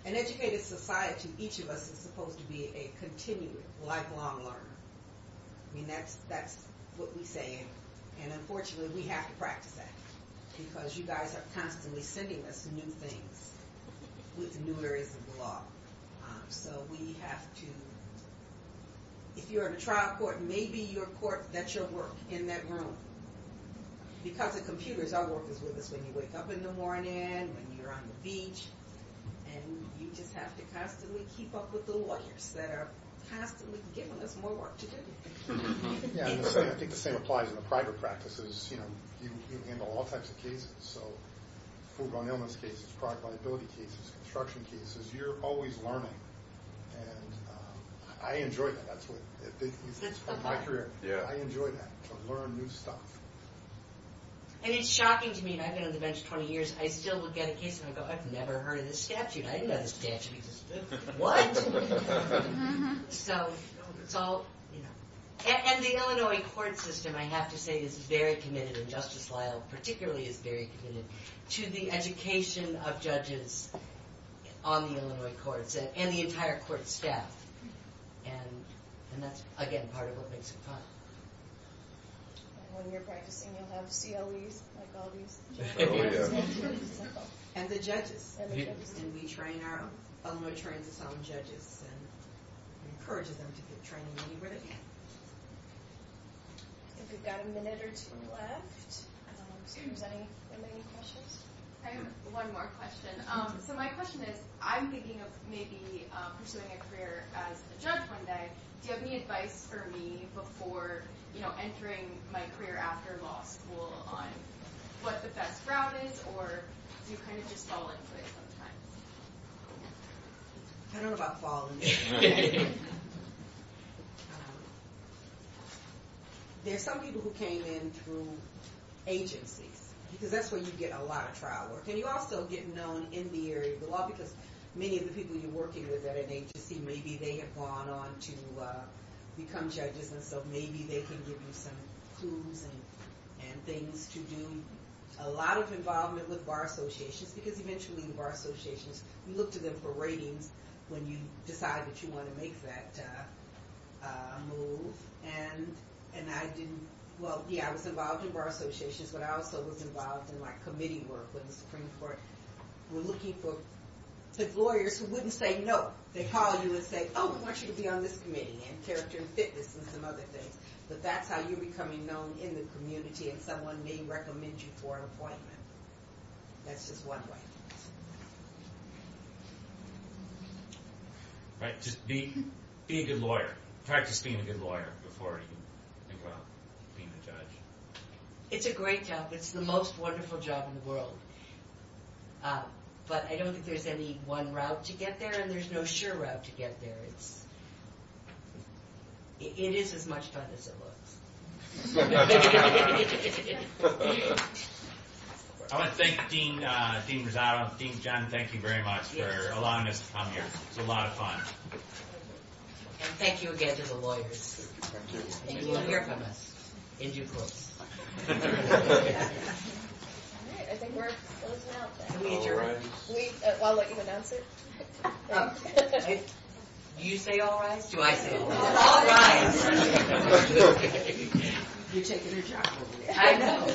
In an educated society, each of us is supposed to be a continuous lifelong learner. I mean, that's what we say, and unfortunately we have to practice that, because you guys are constantly sending us new things with new areas of the law. So we have to, if you're in a trial court, maybe your court, that's your work, in that room. Because the computers are working with us when you wake up in the morning, when you're on the beach, and you just have to constantly keep up with the lawyers that are constantly giving us more work to do. Yeah, I think the same applies in the private practices. You know, you can handle all types of cases. So, school-gone-illness cases, private liability cases, construction cases. You're always learning. And I enjoy that, that's what it's been for my career. I enjoy that, to learn new stuff. And it's shocking to me. I've been on the bench 20 years. I still look at a case and I go, I've never heard of this statute. I didn't have a statute. Why? So, and the Illinois court system, I have to say, is very committed, and Justice Lyle particularly is very committed, to the education of judges on the Illinois courts, and the entire court staff. And that's, again, part of what makes it fun. When we were practicing, we had CODs, like all these. And the judges, and we train our own attorneys, our own judges, and we encourage them to keep training anybody. I think we've got a minute or two left. Does anybody have any questions? I have one more question. So, my question is, I'm thinking of maybe pursuing a career as a judge one day. Do you have any advice for me before, you know, pursuing a career after law school on what the best route is, or do you kind of just fall in place sometimes? I don't know about falling in place. There are some people who came in through agencies, because that's where you get a lot of trial work. And you also get known in the area of the law, because many of the people you work with at an agency, maybe they have gone on to become judges, and so maybe they can give you some tools and things to do. A lot of involvement with bar associations, because eventually the bar associations, you look to them for ratings when you decide that you want to make that move. And I didn't, well, yeah, I was involved in bar associations, but I also was involved in, like, committee work with the Supreme Court. We're looking for lawyers who wouldn't say no. They'd call you and say, oh, I should be on this committee, and character fitness and some other things. So that's how you're becoming known in the community if someone may recommend you for an appointment. That's just one way. Just be a good lawyer. Practice being a good lawyer before you become a judge. It's a great job. It's the most wonderful job in the world. But I don't think there's any one route to get there, and there's no sure route to get there. It is as much fun as it looks. I want to thank Dean Rosado. Dean John, thank you very much for allowing us to come here. It's a lot of fun. And thank you again to the lawyers. And you'll hear from us in due course. Do you say all right? Do I say all right? You're taking your time. I know.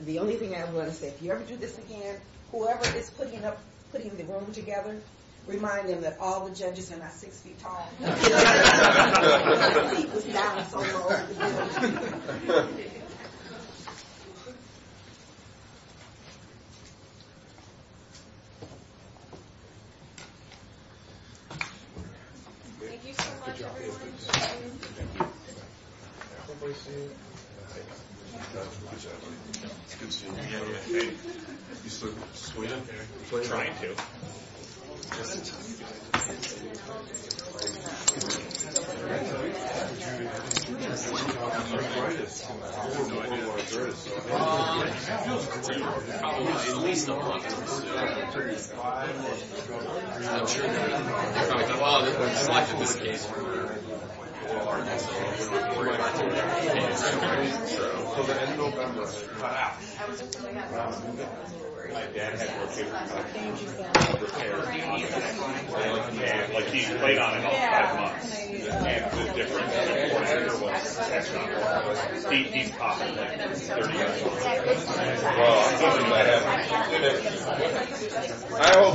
The only thing I want to say, if you ever do this again, whoever is putting the room together, remind them that all the judges are not six feet tall. All right. Thank you. Thank you. I hope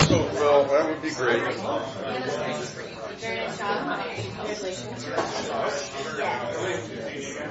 so as well. That would be great. Thank you.